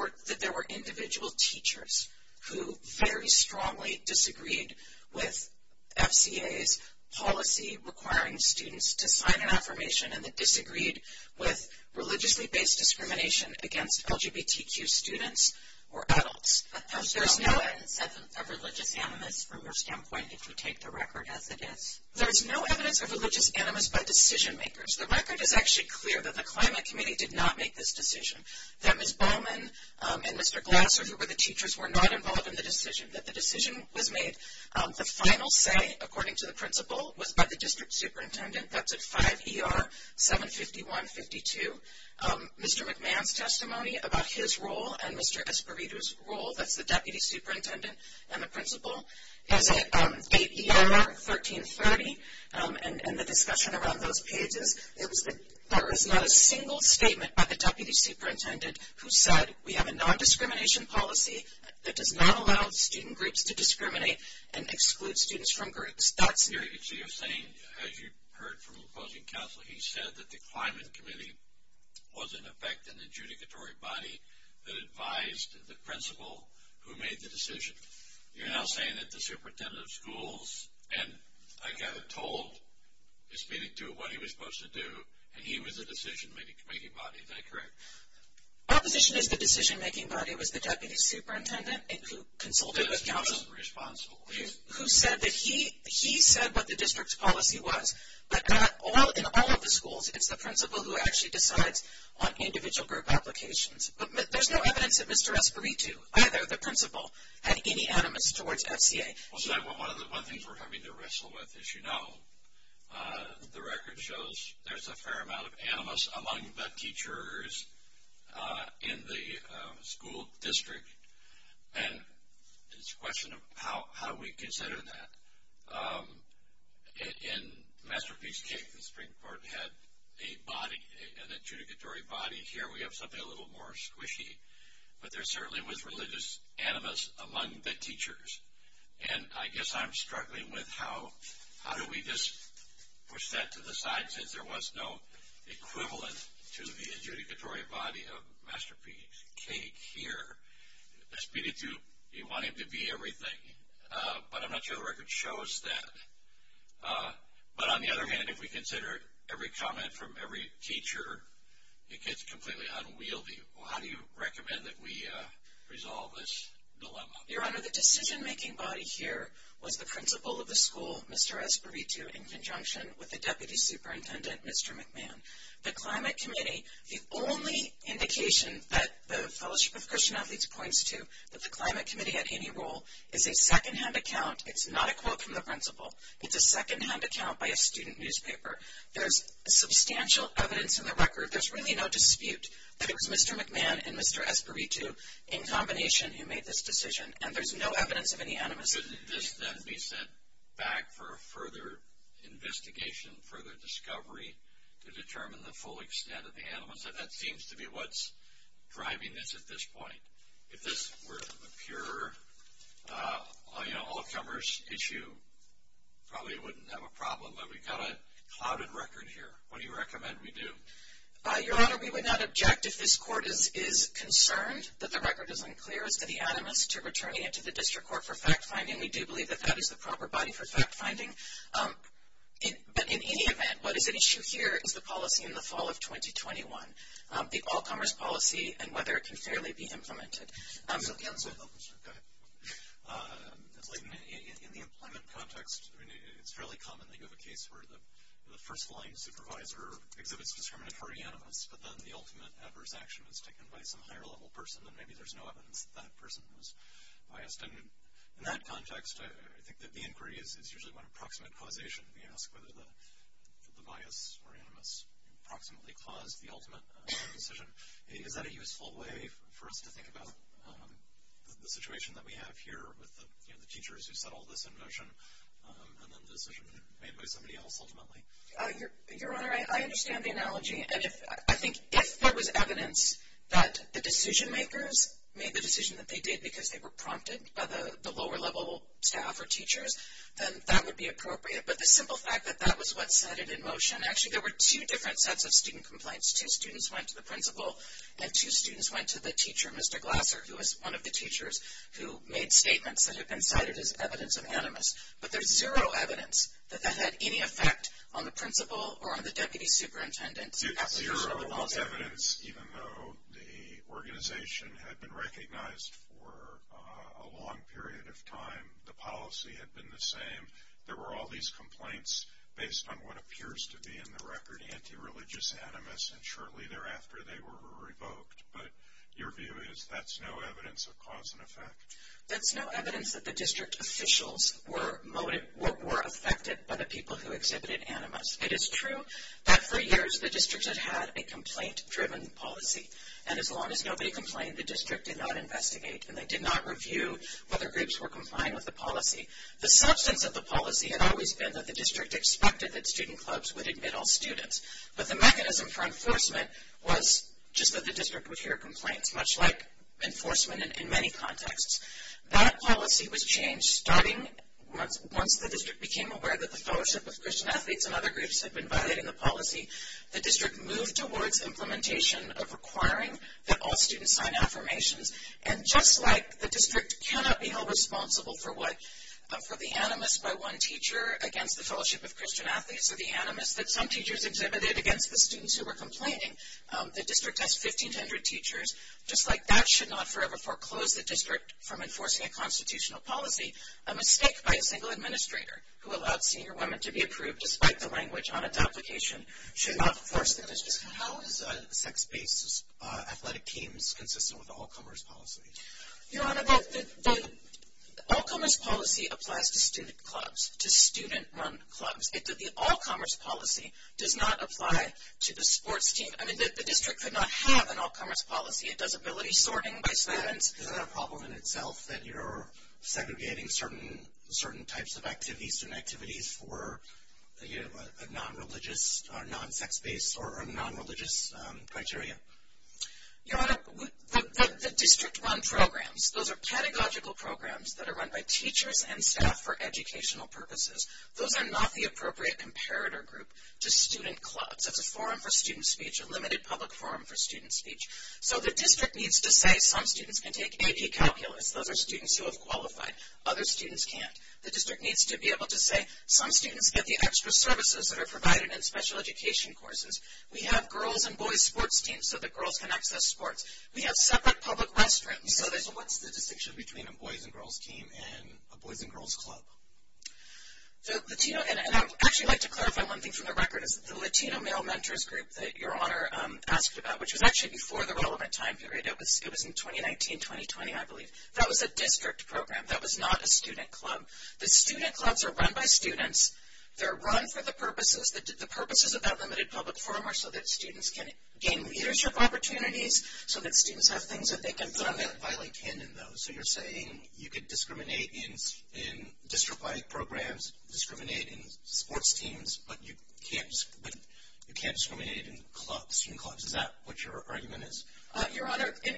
were individual teachers who very strongly disagreed with FCA's policy requiring students to sign an affirmation and that disagreed with religiously-based discrimination against LGBTQ students or adults. So there's no evidence of religious animus from your standpoint that can take the record as it is? There is no evidence of religious animus by the decision-makers. The record is actually clear that the Climate Committee did not make this decision, that Ms. Bowman and Mr. Glasser, who were the teachers, were not involved in the decision, that the decision was made. The final say, according to the principal, was by the district superintendent. That's at 5 ER 75152. Mr. McMahon's testimony about his role and Mr. Esparito's role, that's the deputy superintendent and the principal, and at 8 ER 1330 and the discussion around those cases, there was not a single statement by the deputy superintendent who said, We have a non-discrimination policy that does not allow student groups to discriminate and excludes students from groups. As you heard from the closing counsel, he said that the Climate Committee was in effect an adjudicatory body that advised the principal who made the decision. You're now saying that the superintendent of schools, and I got it told, is speaking to what he was supposed to do, and he was the decision-making body. Is that correct? Our position is the decision-making body was the deputy superintendent and who consulted with counsel, who said that he said what the district's policy was, but not in all of the schools. It's the principal who actually decides on the individual group applications. But there's no evidence that Mr. Esparito, either of the principal, had any animus towards SCA. One of the things we're having to wrestle with, as you know, the record shows there's a fair amount of animus among the teachers in the school district, and it's a question of how we consider that. In Masterpiece's case, the Supreme Court had an adjudicatory body. Here we have something a little more squishy. But there certainly was religious animus among the teachers. And I guess I'm struggling with how do we just push that to the side, since there was no equivalent to the adjudicatory body of Masterpiece case here. That's because you want him to be everything. But I'm not sure the record shows that. But on the other hand, if we consider every comment from every teacher, it gets completely unwieldy. How do you recommend that we resolve this dilemma? Your Honor, the decision-making body here was the principal of the school, Mr. Esparito, in conjunction with the deputy superintendent, Mr. McMahon. The Climate Committee, the only indication that the Fellowship of Christian Athletes points to that the Climate Committee had any role is a secondhand account. It's not a quote from the principal. It's a secondhand account by a student newspaper. There's substantial evidence in the record. There's really no dispute. It was Mr. McMahon and Mr. Esparito in combination who made this decision. And there's no evidence of any animus. Shouldn't this then be sent back for a further investigation, further discovery, to determine the full extent of the animus? That seems to be what's driving this at this point. If this were a pure all-comers issue, probably it wouldn't have a problem. But we've got a clouded record here. What do you recommend we do? Your Honor, we would not object if this court is concerned that the record isn't clear, has any animus to returning it to the district court for fact-finding. We do believe that that is the proper body for fact-finding. But in any event, what is at issue here is the policy in the fall of 2021, the all-comers policy and whether it can fairly be implemented. Go ahead. In the employment context, it's fairly common that you have a case where the first-line supervisor exhibits determinatory animus, but then the ultimate adverse action is taken by some higher-level person, and maybe there's no evidence that that person is biased. And in that context, I think that the inquiry is usually about approximate causation. We ask whether the bias or animus approximately caused the ultimate decision. Is that a useful way for us to think about the situation that we have here with the teachers who set all this in motion and then the decision made by somebody else ultimately? Your Honor, I understand the analogy. I think if there was evidence that the decision-makers made the decision that they did because they were prompted by the lower-level staff or teachers, then that would be appropriate. But the simple fact that that was what set it in motion, and actually there were two different sets of student complaints. Two students went to the principal and two students went to the teacher, Mr. Glasser, who was one of the teachers who made statements that had been cited as evidence of animus. But there's zero evidence that that had any effect on the principal or on the deputy superintendent. Zero evidence, even though the organization had been recognized for a long period of time, the policy had been the same. There were all these complaints based on what appears to be in the record anti-religious animus, and shortly thereafter they were revoked. But your view is that's no evidence of cause and effect? That's no evidence that the district officials were affected by the people who exhibited animus. It is true that for years the district has had a complaint-driven policy. And as long as nobody complained, the district did not investigate and they did not review whether groups were complying with the policy. The substance of the policy had always been that the district expected that student clubs would admit all students. But the mechanism for enforcement was just that the district would hear complaints, much like enforcement in many contexts. That policy was changed starting once the district became aware that the fellowship of Christian athletes and other groups had been violating the policy, the district moved towards implementation of requiring that all students sign affirmations. And just like the district cannot be held responsible for the animus by one teacher against the fellowship of Christian athletes or the animus that some teachers exhibited against the students who were complaining, the district has 1,500 teachers. Just like that should not forever foreclose the district from enforcing a constitutional policy, a mistake by a single administrator who allows senior women to be approved despite the language on its application should not force the district. How is a sex-based athletic team consistent with the all-commerce policy? Your Honor, the all-commerce policy applies to student clubs, to student-run clubs. It's that the all-commerce policy does not apply to the sports team. I mean, the district could not have an all-commerce policy. It does ability sorting by students. Isn't that a problem in itself, that you're segregating certain types of activities or activities for a non-religious or non-sex-based or non-religious criteria? Your Honor, the district-run programs, those are pedagogical programs that are run by teachers and staff for educational purposes. Those are not the appropriate comparator group to student clubs. That's a forum for student speech, a limited public forum for student speech. So the district needs to say some students can take AP calculus. Those are students who have qualified. Other students can't. The district needs to be able to say some students get the extra services that are provided in special education courses. We have girls' and boys' sports teams so that girls can access sports. We have separate public restrooms. You know, there's a lot of distinctions between a boys' and girls' team and a boys' and girls' club. And I would actually like to clarify one thing for the record. The Latino male mentors group that Your Honor asked about, which was actually before the relevant time period. It was in 2019-2020, I believe. That was a district program. That was not a student club. The student clubs are run by students. They're run for the purposes. The purposes of that limited public forum are so that students can gain leadership opportunities, so that students have things that they can put on their filing table. So you're saying you can discriminate in district-wide programs, discriminate in sports teams, but you can't discriminate in student clubs. Is that what your argument is? Your Honor, in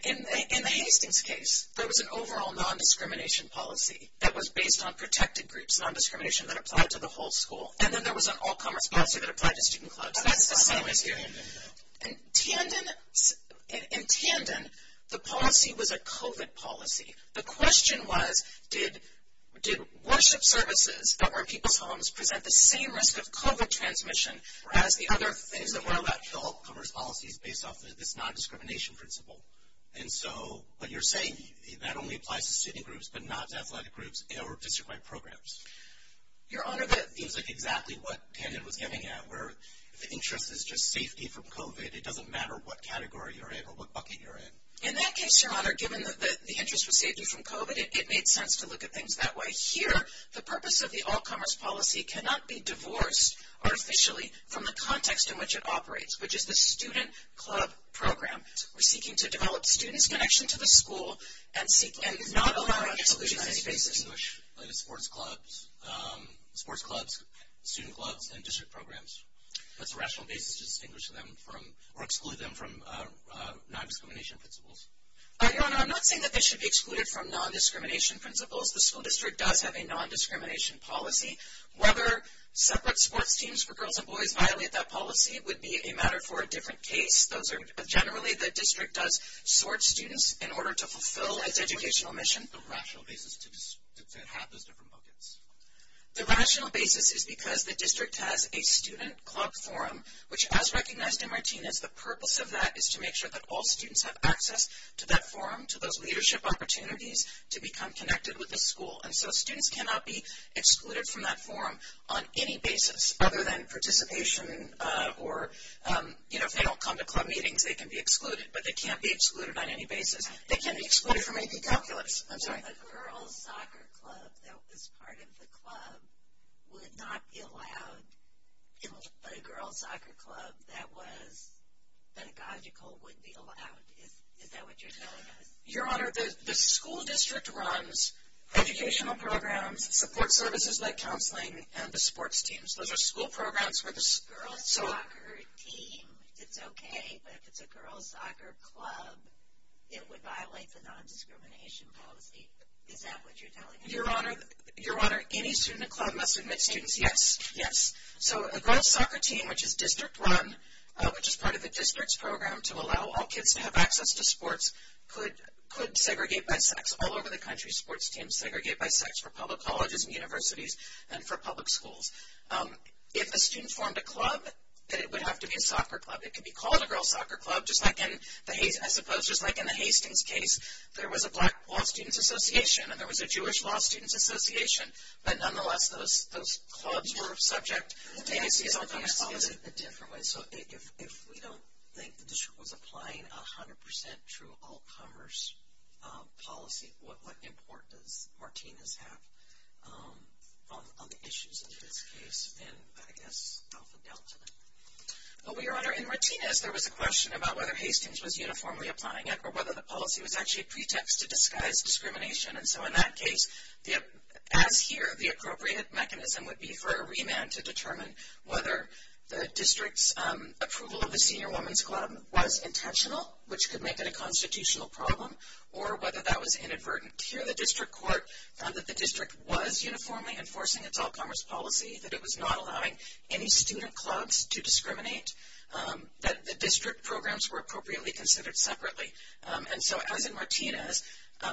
Hayek's case, there was an overall non-discrimination policy that was based on protected groups, non-discrimination that applied to the whole school. And then there was an all-commerce policy that applied to student clubs. That's the whole idea. In Tandon, the policy was a COVID policy. The question was, did worship services that were in people's homes present the same risk of COVID transmission as the other in the world? The all-commerce policy is based off of this non-discrimination principle. And so what you're saying, that only applies to student groups but not athletic groups or district-wide programs. Your Honor, that is exactly what Tandon was getting at, where the interest is just safety from COVID. It doesn't matter what category you're in or what bucket you're in. In that case, Your Honor, given that the interest was safety from COVID, it made sense to look at things that way. Here, the purpose of the all-commerce policy cannot be divorced artificially from the context in which it operates, which is the student club program. We're seeking to develop the student's connection to the school and not allow exclusion on any basis. Sports clubs, student clubs, and district programs. That's a rational basis to distinguish them from or exclude them from non-discrimination principles. Your Honor, I'm not saying that they should be excluded from non-discrimination principles. The school district does have a non-discrimination policy. Whether separate sports teams for girls and boys violate that policy would be a matter for a different case. Generally, the district does sort students in order to fulfill its educational mission. The rational basis is because the district has a student club forum, which, as recognized in Martinez, the purpose of that is to make sure that all students have access to that forum, to those leadership opportunities, to become connected with the school. And so students cannot be excluded from that forum on any basis, other than participation or, you know, if they don't come to club meetings, they can be excluded. But they can't be excluded on any basis. They can be excluded from AP Calculus. A girls' soccer club that was part of the club would not be allowed in a girls' soccer club that was pedagogical would be allowed. Is that what you're saying? Your Honor, the school district runs educational programs, support services like counseling, and the sports teams. Those are school programs for the girls' soccer team. It's okay, but if it's a girls' soccer club, it would violate the nondiscrimination policy. Is that what you're telling us? Your Honor, any student club must admit students, yes, yes. So a girls' soccer team, which is district-run, which is part of the district's program to allow all kids to have access to sports, could segregate by sex. All over the country, sports teams segregate by sex for public colleges and universities and for public schools. If a student formed a club, it would have to be a soccer club. It could be called a girls' soccer club, just like in the Hastings case. There was a Black Law Students Association, and there was a Jewish Law Students Association. But nonetheless, those clubs were a subject. It's always a different way. So if we don't think the district was applying a 100% true all-commerce policy, what would the importance of Martina's have on the issues in this case and, I guess, on the balance of it? Well, Your Honor, in Martina's, there was a question about whether Hastings was uniformly applying it or whether the policy was actually a pretext to disguise discrimination. And so in that case, as here, the appropriate mechanism would be for a remand to determine whether the district's approval of the senior women's club was intentional, which could make it a constitutional problem, or whether that was inadvertent. Here, the district court found that the district was uniformly enforcing its all-commerce policy, that it was not allowing any student clubs to discriminate, that the district programs were appropriately considered separately. And so as in Martina's,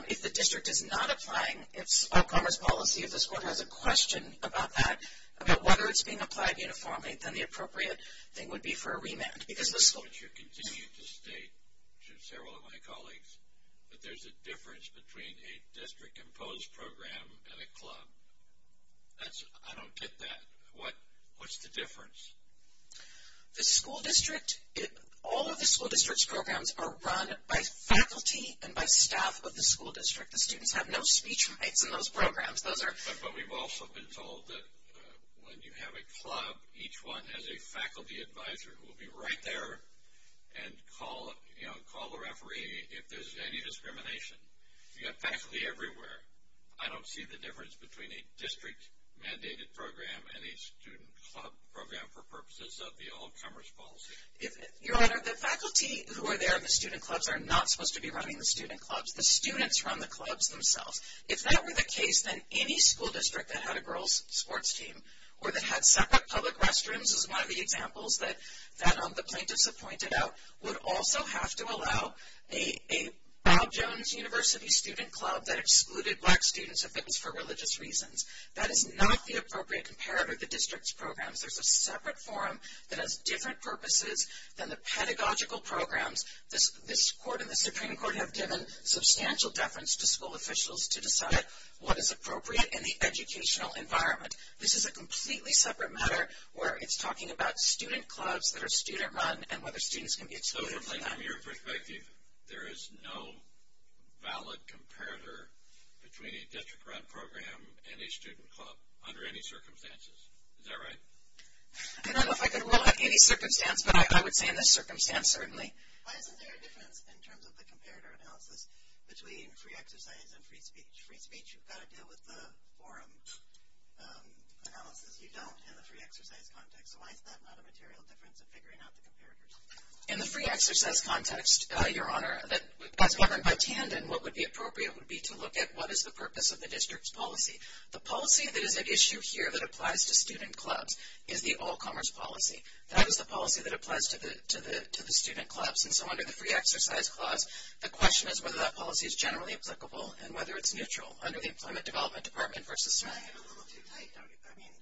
if the district is not applying its all-commerce policy, if the court has a question about that, about whether it's being applied uniformly, then the appropriate thing would be for a remand. But you continue to state, to several of my colleagues, that there's a difference between a district-imposed program and a club. I don't get that. What's the difference? The school district, all of the school district's programs are run by faculty and by staff of the school district. The students have no speech rights in those programs. But we've also been told that when you have a club, each one has a faculty advisor who will be right there and call the referee if there's any discrimination. You've got faculty everywhere. I don't see the difference between a district-mandated program and a student club program for purposes of the all-commerce policy. Your Honor, the faculty who are there in the student clubs are not supposed to be running the student clubs. The students run the clubs themselves. If that were the case, then any school district that had a girls' sports team or that had separate public restrooms, as one of the examples that the plaintiffs have pointed out, would also have to allow a Bob Jones University student club that excluded black students if it was for religious reasons. That is not the appropriate imperative of the district's programs. There's a separate forum that has different purposes than the pedagogical programs. This Court and the Supreme Court have given substantial deference to school officials to decide what is appropriate in the educational environment. This is a completely separate matter where it's talking about student clubs that are student-run and whether students can be excluded from that. So from your perspective, there is no valid comparator between a district-run program and a student club under any circumstances. Is that right? I don't know if I can rule out any circumstance, but I would say in this circumstance, certainly. Why isn't there a difference in terms of the comparator analysis between free exercise and free speech? Free speech, you've got to deal with the forum analysis. You don't in the free exercise context. So why is that not a material difference in figuring out the comparators? In the free exercise context, Your Honor, that's governed by TAND. And what would be appropriate would be to look at what is the purpose of the district's policy. The policy that is at issue here that applies to student clubs is the all-commerce policy. That is a policy that applies to the student clubs. And so under the free exercise clause, the question is whether that policy is generally applicable and whether it's neutral. Under the Employment Development Department versus CERN. I'm getting a little too tight. I mean,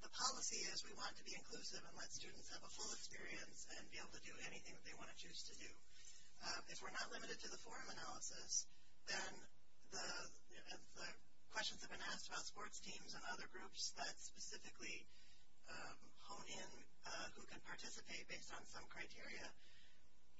the policy is we want to be inclusive and let students have a full experience and be able to do anything that they want to choose to do. If we're not limited to the forum analysis, then the questions have been asked about sports teams and other groups, but specifically hone in who can participate based on some criteria.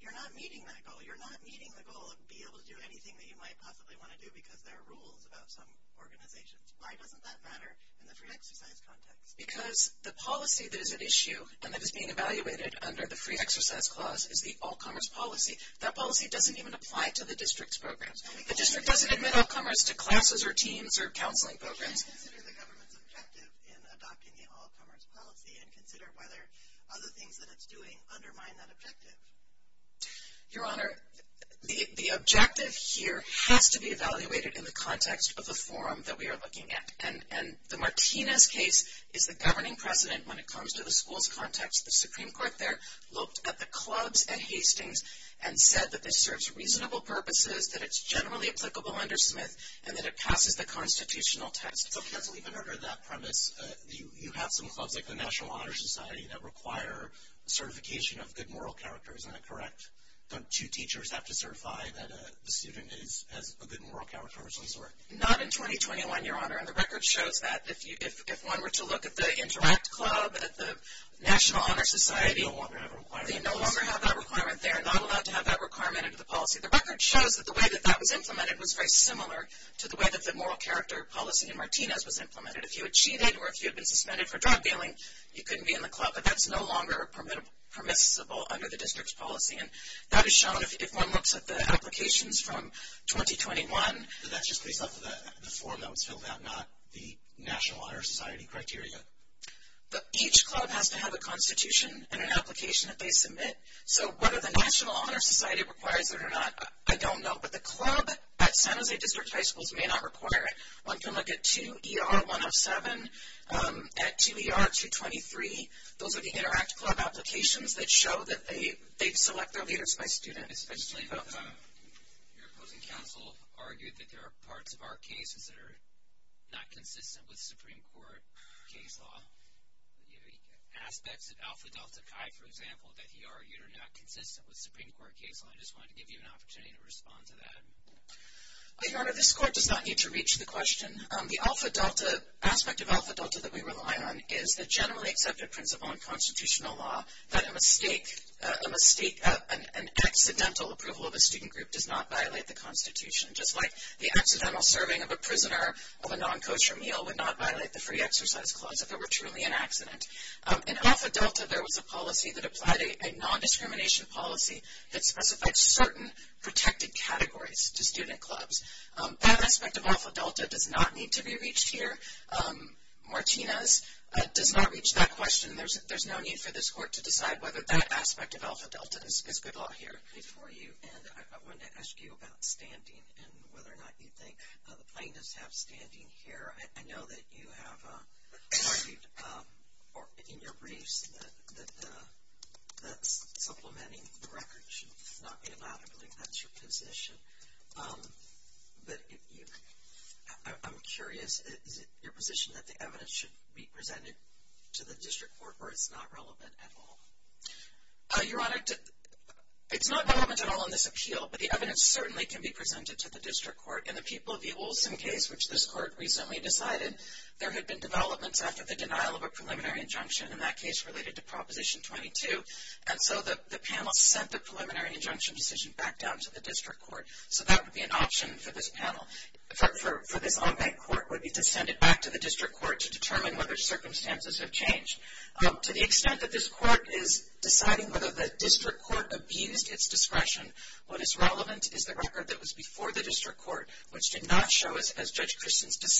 You're not meeting that goal. You're not meeting the goal of being able to do anything that you might possibly want to do because there are rules about some organizations. Why doesn't that matter in the free exercise context? Because the policy that is at issue and that is being evaluated under the free exercise clause is the all-commerce policy. That policy doesn't even apply to the district's programs. The district doesn't admit all-commerce to classes or teams or counseling programs. Is the government effective in adopting the all-commerce policy and consider whether other things that it's doing undermine that objective? Your Honor, the objective here has to be evaluated in the context of the forum that we are looking at. And the Martinez case is the governing precedent when it comes to the school context. The Supreme Court there looked at the clubs at Hastings and said that this serves reasonable purposes, that it's generally applicable under SMIT, and that it passes the constitutional test. You'll have to leave in order of that premise. You have some clubs, like the National Honor Society, that require certification of good moral character. Is that correct? Don't two teachers have to certify that a student has a good moral character? Not in 2021, Your Honor. And the record shows that if one were to look at the Interact Club and at the National Honor Society, they no longer have that requirement there. They're not allowed to have that requirement under the policy. The record shows that the way that that was implemented was very similar to the way that the moral character policy in Martinez was implemented. If you had cheated or if you had been suspended for drug dealing, you couldn't be in the club. But that's no longer permissible under the district's policy. And that is shown if one looks at the applications from 2021. So that's just based off of the formula until now, not the National Honor Society criteria. But each club has to have a constitution and an application that they submit. So whether the National Honor Society requires it or not, I don't know. But the club at San Jose District High Schools may not require it. One can look at 2ER-107. At 2ER-223, those are the Interact Club applications that show that they select their leaders by student, especially those of the opposing counsel argued that there are parts of our cases that are not consistent with Supreme Court case law. Aspects of Alpha Delta Chi, for example, that he argued are not consistent with Supreme Court case law. I just want to give you an opportunity to respond to that. Your Honor, this court does not need to reach the question. The Alpha Delta, aspect of Alpha Delta that we rely on, is a generally accepted principle in constitutional law that an accidental approval of a student group does not violate the Constitution, just like the accidental serving of a prisoner of a non-kosher meal would not violate the Free Exercise Clause if it were truly an accident. In Alpha Delta, there was a policy that applied a nondiscrimination policy that specified certain protected categories to student clubs. That aspect of Alpha Delta does not need to be reached here. Martina does not reach that question. There's no need for this court to decide whether that aspect of Alpha Delta is good law here for you. And I wanted to ask you about standing and whether or not you think plaintiffs have standing here. Your Honor, I know that you have argued in your briefs that supplementing the record should not be allowed. I think that's your position. I'm curious, is it your position that the evidence should be presented to the district court where it's not relevant at all? Your Honor, it's not relevant at all in this appeal, but the evidence certainly can be presented to the district court. In the Peoples v. Woolton case, which this court recently decided, there had been developments after the denial of a preliminary injunction in that case related to Proposition 22, and so the panel sent the preliminary injunction decision back down to the district court. So that would be an option for this panel. For the non-bank court, it would be to send it back to the district court to determine whether circumstances have changed. To the extent that this court is deciding whether the district court abides its discretion, what is relevant is the record that was before the district court, which did not show, as Judge Christensen has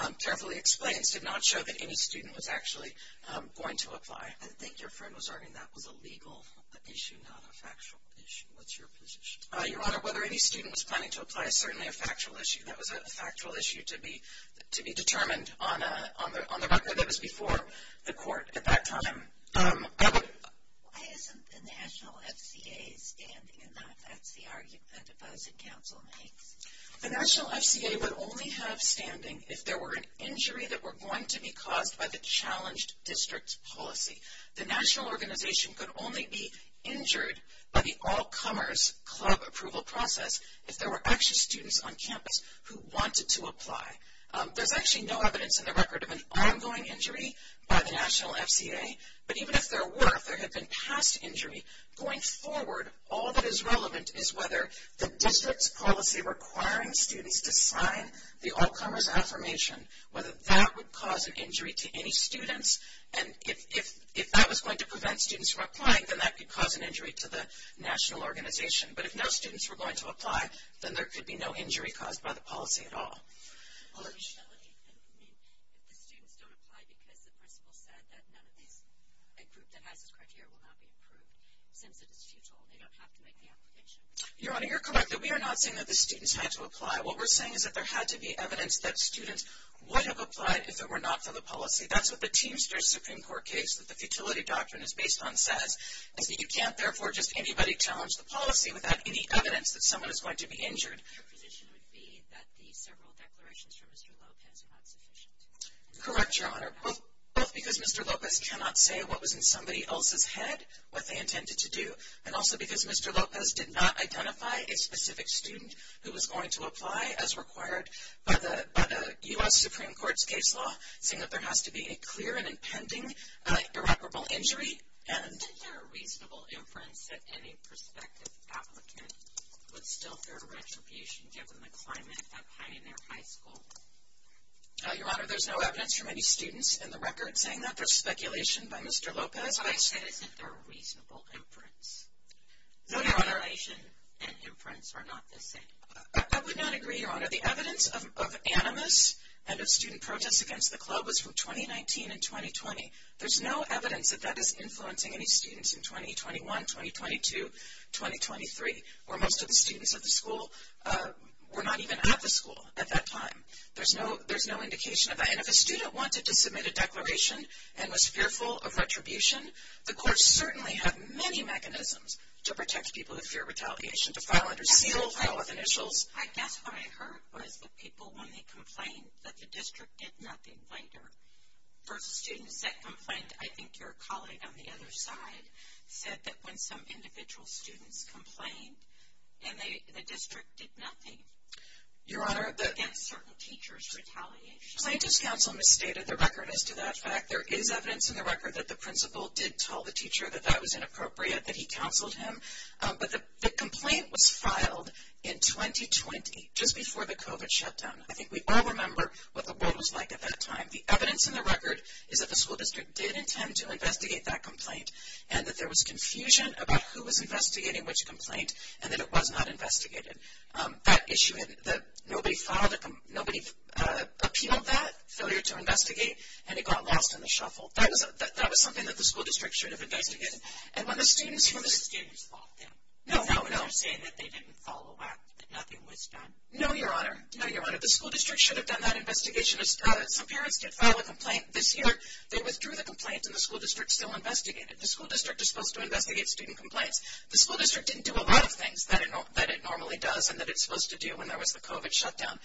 had carefully explained, did not show that any student was actually going to apply. I think your firm was arguing that was a legal issue, not a factual issue. What's your position? Your Honor, whether any student was planning to apply is certainly a factual issue. That was a factual issue to be determined on the record that was before the court at that time. Why isn't the National FCA standing in that FCR you testified to, Counsel Knight? The National FCA would only have standing if there were an injury that were going to be caused by the challenged district's policy. The national organization could only be injured by the all-comers club approval process if there were actually students on campus who wanted to apply. There's actually no evidence in the record of an ongoing injury by the National FCA. But even if there were, if there had been past injuries going forward, all that is relevant is whether the district's policy requiring students to sign the all-comers affirmation, whether that would cause an injury to any students. And if that was going to prevent students from applying, then that could cause an injury to the national organization. But if no students were going to apply, then there could be no injury caused by the policy at all. Your Honor, you're correct that we are not saying that the students had to apply. What we're saying is that there had to be evidence that students would have applied if it were not for the policy. That's what the Teamsters Supreme Court case with the futility doctrine is based on says. And if you can't, therefore, just anybody challenge the policy, would that be the evidence that someone is going to be injured? Your position would be that the several declarations from Mr. Lopez are not sufficient. Correct, Your Honor, both because Mr. Lopez cannot say what was in somebody else's head, what they intended to do, and also because Mr. Lopez did not identify a specific student who was going to apply as required by the U.S. Supreme Court's case law, saying that there has to be a clear and impending irreparable injury and a reasonable inference that any prospective applicant would still pay a retribution given the climate of hiding their high school. Your Honor, there's no evidence from any students in the record saying that for speculation by Mr. Lopez. I said it's a reasonable inference. No, Your Honor, I would not agree, Your Honor, Your Honor, the evidence of animus and of student protests against the club was from 2019 and 2020. There's no evidence that that is influencing any students in 2021, 2022, 2023, or most of the students at the school were not even at the school at that time. There's no indication of that. And if a student wanted to submit a declaration and was fearful of retribution, the courts certainly have many mechanisms to protect people who fear retaliation, to file interstitial, to file initials. I guess what I heard was the people when they complained that the district did nothing, like their first student that complained, I think your colleague on the other side, said that when some individual students complained, the district did nothing. Your Honor, the – Against certain teachers retaliation. My discounsel may say that the record is to that effect. There is evidence in the record that the principal did tell the teacher that that was inappropriate, that he counseled him. But the complaint was filed in 2020, just before the COVID shutdown. I think we all remember what the world was like at that time. The evidence in the record is that the school district did intend to investigate that complaint and that there was confusion about who was investigating which complaint and that it was not investigated. That issue is that nobody filed it. Nobody appealed that failure to investigate, and it got lost in the shuffle. That was something that the school district should have investigated. And when the students – No, no, no, I'm saying that they didn't follow up. Nothing was done. No, Your Honor. No, Your Honor. The school district should have done that investigation. So parents did file a complaint. This year they withdrew the complaint, and the school district still investigated. The school district is supposed to investigate student complaints. The school district didn't do a lot of things that it normally does and that it's supposed to do when there was the COVID shutdown.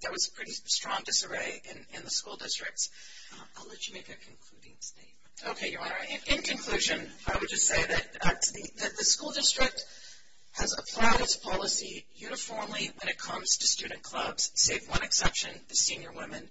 There was a pretty strong disarray in the school district. I'll let you make that conclusion. Okay, Your Honor. In conclusion, I would just say that the school district has applied its policy uniformly when it comes to student clubs, save one exception, the senior women.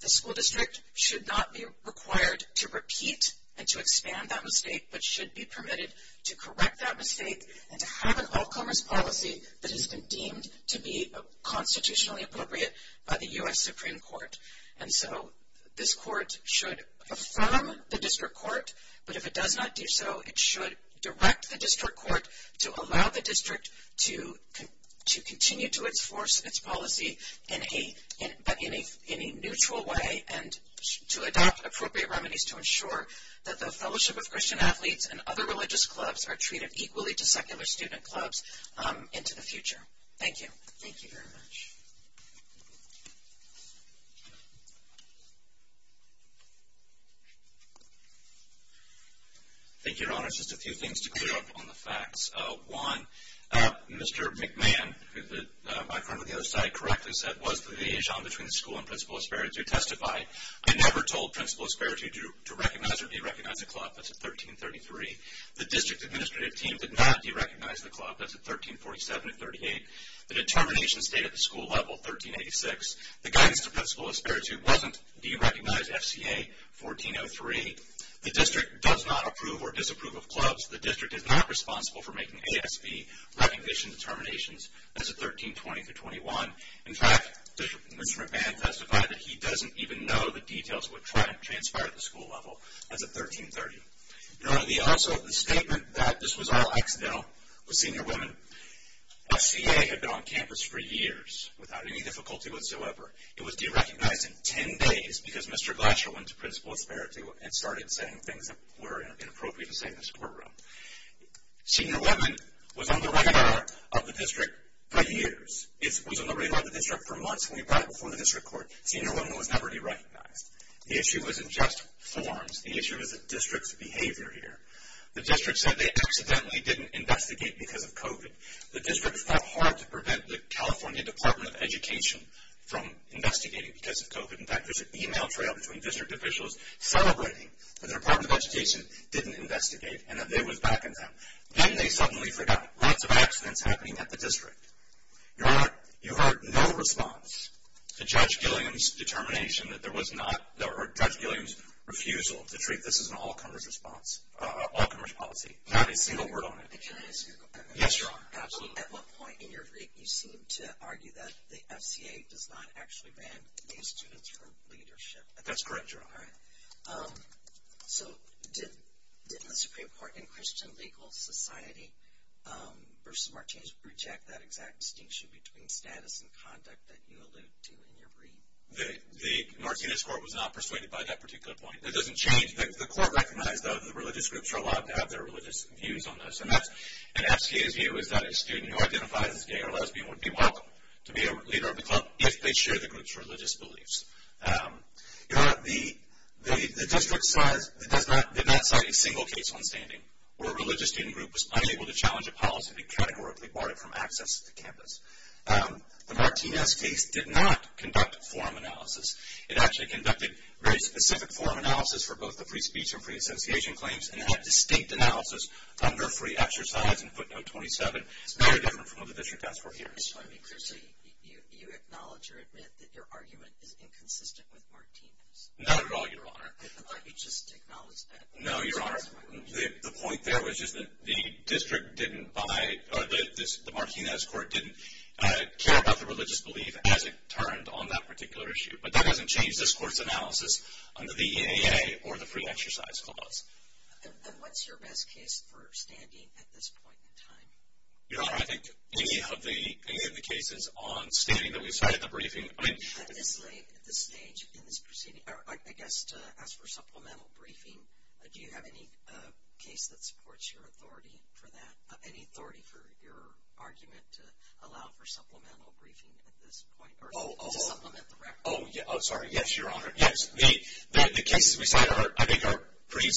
The school district should not be required to repeat and to expand that mistake, but should be permitted to correct that mistake and to have an outcome as policy that has been deemed to be constitutionally appropriate by the U.S. Supreme Court. And so this court should affirm the district court. But if it does not do so, it should direct the district court to allow the district to continue to enforce its policy in a neutral way and to adopt appropriate remedies to ensure that the Fellowship of Christian Athletes and other religious clubs are treated equally to secondary student clubs into the future. Thank you. Thank you very much. Thank you, Your Honor. Just a few things to clear up on the facts. One, Mr. McMahon, my friend on the other side, correct us that was the liaison between the school and Principal Asperity to testify. I never told Principal Asperity to recognize or derecognize the club. That's at 1333. The district administrative team did not derecognize the club. That's at 1347 and 38. The determination stayed at the school level, 1386. The guidance of Principal Asperity doesn't derecognize FCA 1403. The district does not approve or disapprove of clubs. The district is not responsible for making ASB recognition determinations. That's at 1320 to 21. In fact, Mr. McMahon testified that he doesn't even know the details of what transpired at the school level at the 1330. Also, the statement that this was all accidental with senior women, FCA had been on campus for years without any difficulty whatsoever. It was derecognized in 10 days because Mr. Glashowin's Principal Asperity had started saying things that were inappropriate to say in this courtroom. Senior women was on the radar of the district for years. It was on the radar of the district for months, and we brought it before the district court. Senior women was never derecognized. The issue wasn't just forms. The issue was the district's behavior here. The district said they accidentally didn't investigate because of COVID. The district tried hard to prevent the California Department of Education from investigating because of COVID. In fact, there's an e-mail trail between district officials celebrating that the Department of Education didn't investigate and that they were backing them. Then they suddenly forgot lots of accidents happening at the district. You heard no response to Judge Gilliam's determination that there was not or Judge Gilliam's refusal to treat this as an all-commerce response, all-commerce policy. Not a single word on it. At one point in your brief, you seem to argue that the FCA does not actually grant these students leadership. That's correct, Your Honor. So did the district court in question legal society versus Martinez reject that exact distinction between status and conduct that you alluded to in your brief? The Martinez court was not persuaded by that particular point. That doesn't change. The court recognized that the religious groups are allowed to have their religious views on this. An FCA student who identified as gay or lesbian would be welcome to be a leader if they share the group's religious beliefs. Your Honor, the district did not cite a single case on standing where a religious student group was unable to challenge a policy that categorically barred it from access to campus. The Martinez case did not conduct forum analysis. It actually conducted very specific forum analysis for both the free speech and free association claims, and it had distinct analysis under free exercise and footnote 27. It's very different from what the district has for hearing. I just want to be clear. So you acknowledge or admit that your argument is inconsistent with Martinez? Not at all, Your Honor. I thought you just acknowledged that. No, Your Honor. The point there was just that the district didn't buy or the Martinez court didn't care about the religious belief as it turned on that particular issue. But that doesn't change this court's analysis on the VAA or the free exercise clause. And what's your best case for standing at this point in time? Your Honor, I think any of the cases on standing that we cite in the briefing. You have been delayed at this stage in this proceeding. I guess to ask for supplemental briefing, do you have any case that supports your authority for that, any authority for your argument to allow for supplemental briefing at this point or to supplement the record? Oh, sorry. Yes, Your Honor. Yes, the cases we cite I think are pretty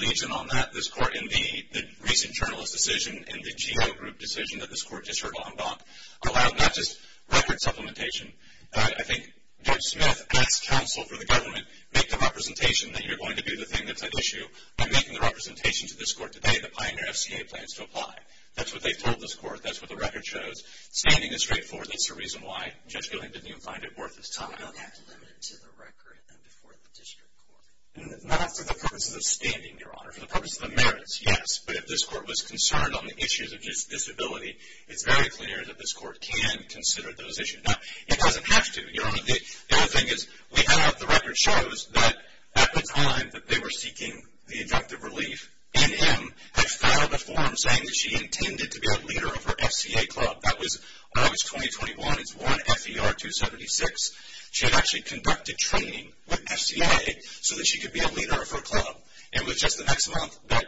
legion on that. This court in the recent journalist decision and the GEO group decision that this court just heard about allow not just record supplementation. I think Judge Smith and the counsel for the government make the representation that you're going to do the thing that's an issue. I'm making the representation to this court today that Pioneer SCA plans to apply. That's what they told this court. That's what the record shows. Standing is straightforward. That's the reason why Judge Dillon didn't even find it worth his time. How about that's limited to the record and before the district court? Not for the purpose of the standing, Your Honor. For the purpose of the merits, yes. But if this court was concerned on the issues of disability, it's very clear that this court can consider those issues. Now, it doesn't have to. Your Honor, the other thing is we have the record shows that at the time that they were seeking the inductive relief, N.M. had filed a form saying that she intended to be a leader of her SCA club. That was August 2021. It's 1 FER 276. She had actually conducted training with SCA so that she could be a leader of her club. It was just the next month that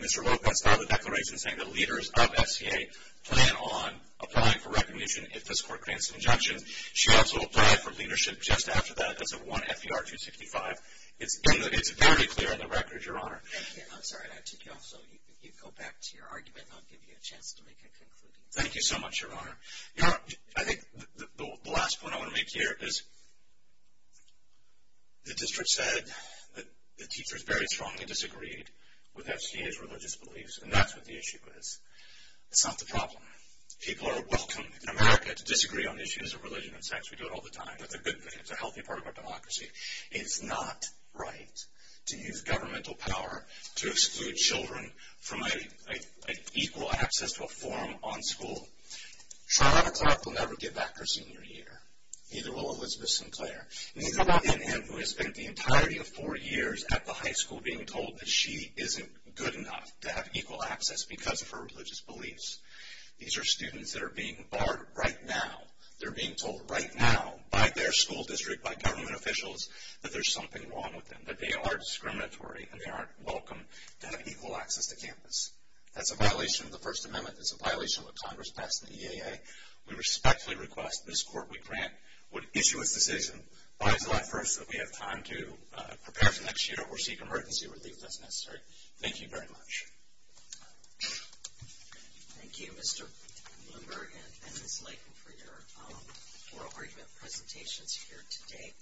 Mr. Lopez filed a declaration saying the leaders of SCA plan on applying for recognition if this court grants an injunction. She also applied for leadership just after that. That's the 1 FER 265. It's very clear in the record, Your Honor. I'm sorry. I think you also need to go back to your argument. I'll give you a chance to make a conclusion. Thank you so much, Your Honor. Your Honor, I think the last point I want to make here is the district said that the teachers very strongly disagreed with SCA's religious beliefs, and that's what the issue is. It's not the problem. People are welcome in America to disagree on issues of religion and sex. We do it all the time. It's a good thing. It's a healthy part of our democracy. It's not right to use governmental power to exclude children from an equal access to a forum on school. How about a clerk who never gave back her senior year? Neither will Elizabeth Sinclair. How about him who has spent the entirety of four years at the high school being told that she isn't good enough to have equal access because of her religious beliefs? These are students that are being barred right now. They're being told right now by their school district, by government officials, that there's something wrong with them, that they are discriminatory and they aren't welcome to have equal access to campus. That's a violation of the First Amendment. It's a violation of what Congress passed in the EAA. We respectfully request this court we grant would issue a decision, find the right person that we have time to prepare for next year or seek a heart and soul relief if that's necessary. Thank you very much. Thank you, Mr. Blumberg and Ms. Latham, for your informative presentations here today.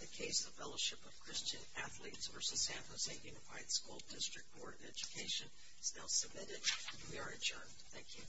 The case of Fellowship of Christian Athletes v. SAMHSA is taken by the School District Board of Education. They'll submit it. We are adjourned. Thank you. Thank you.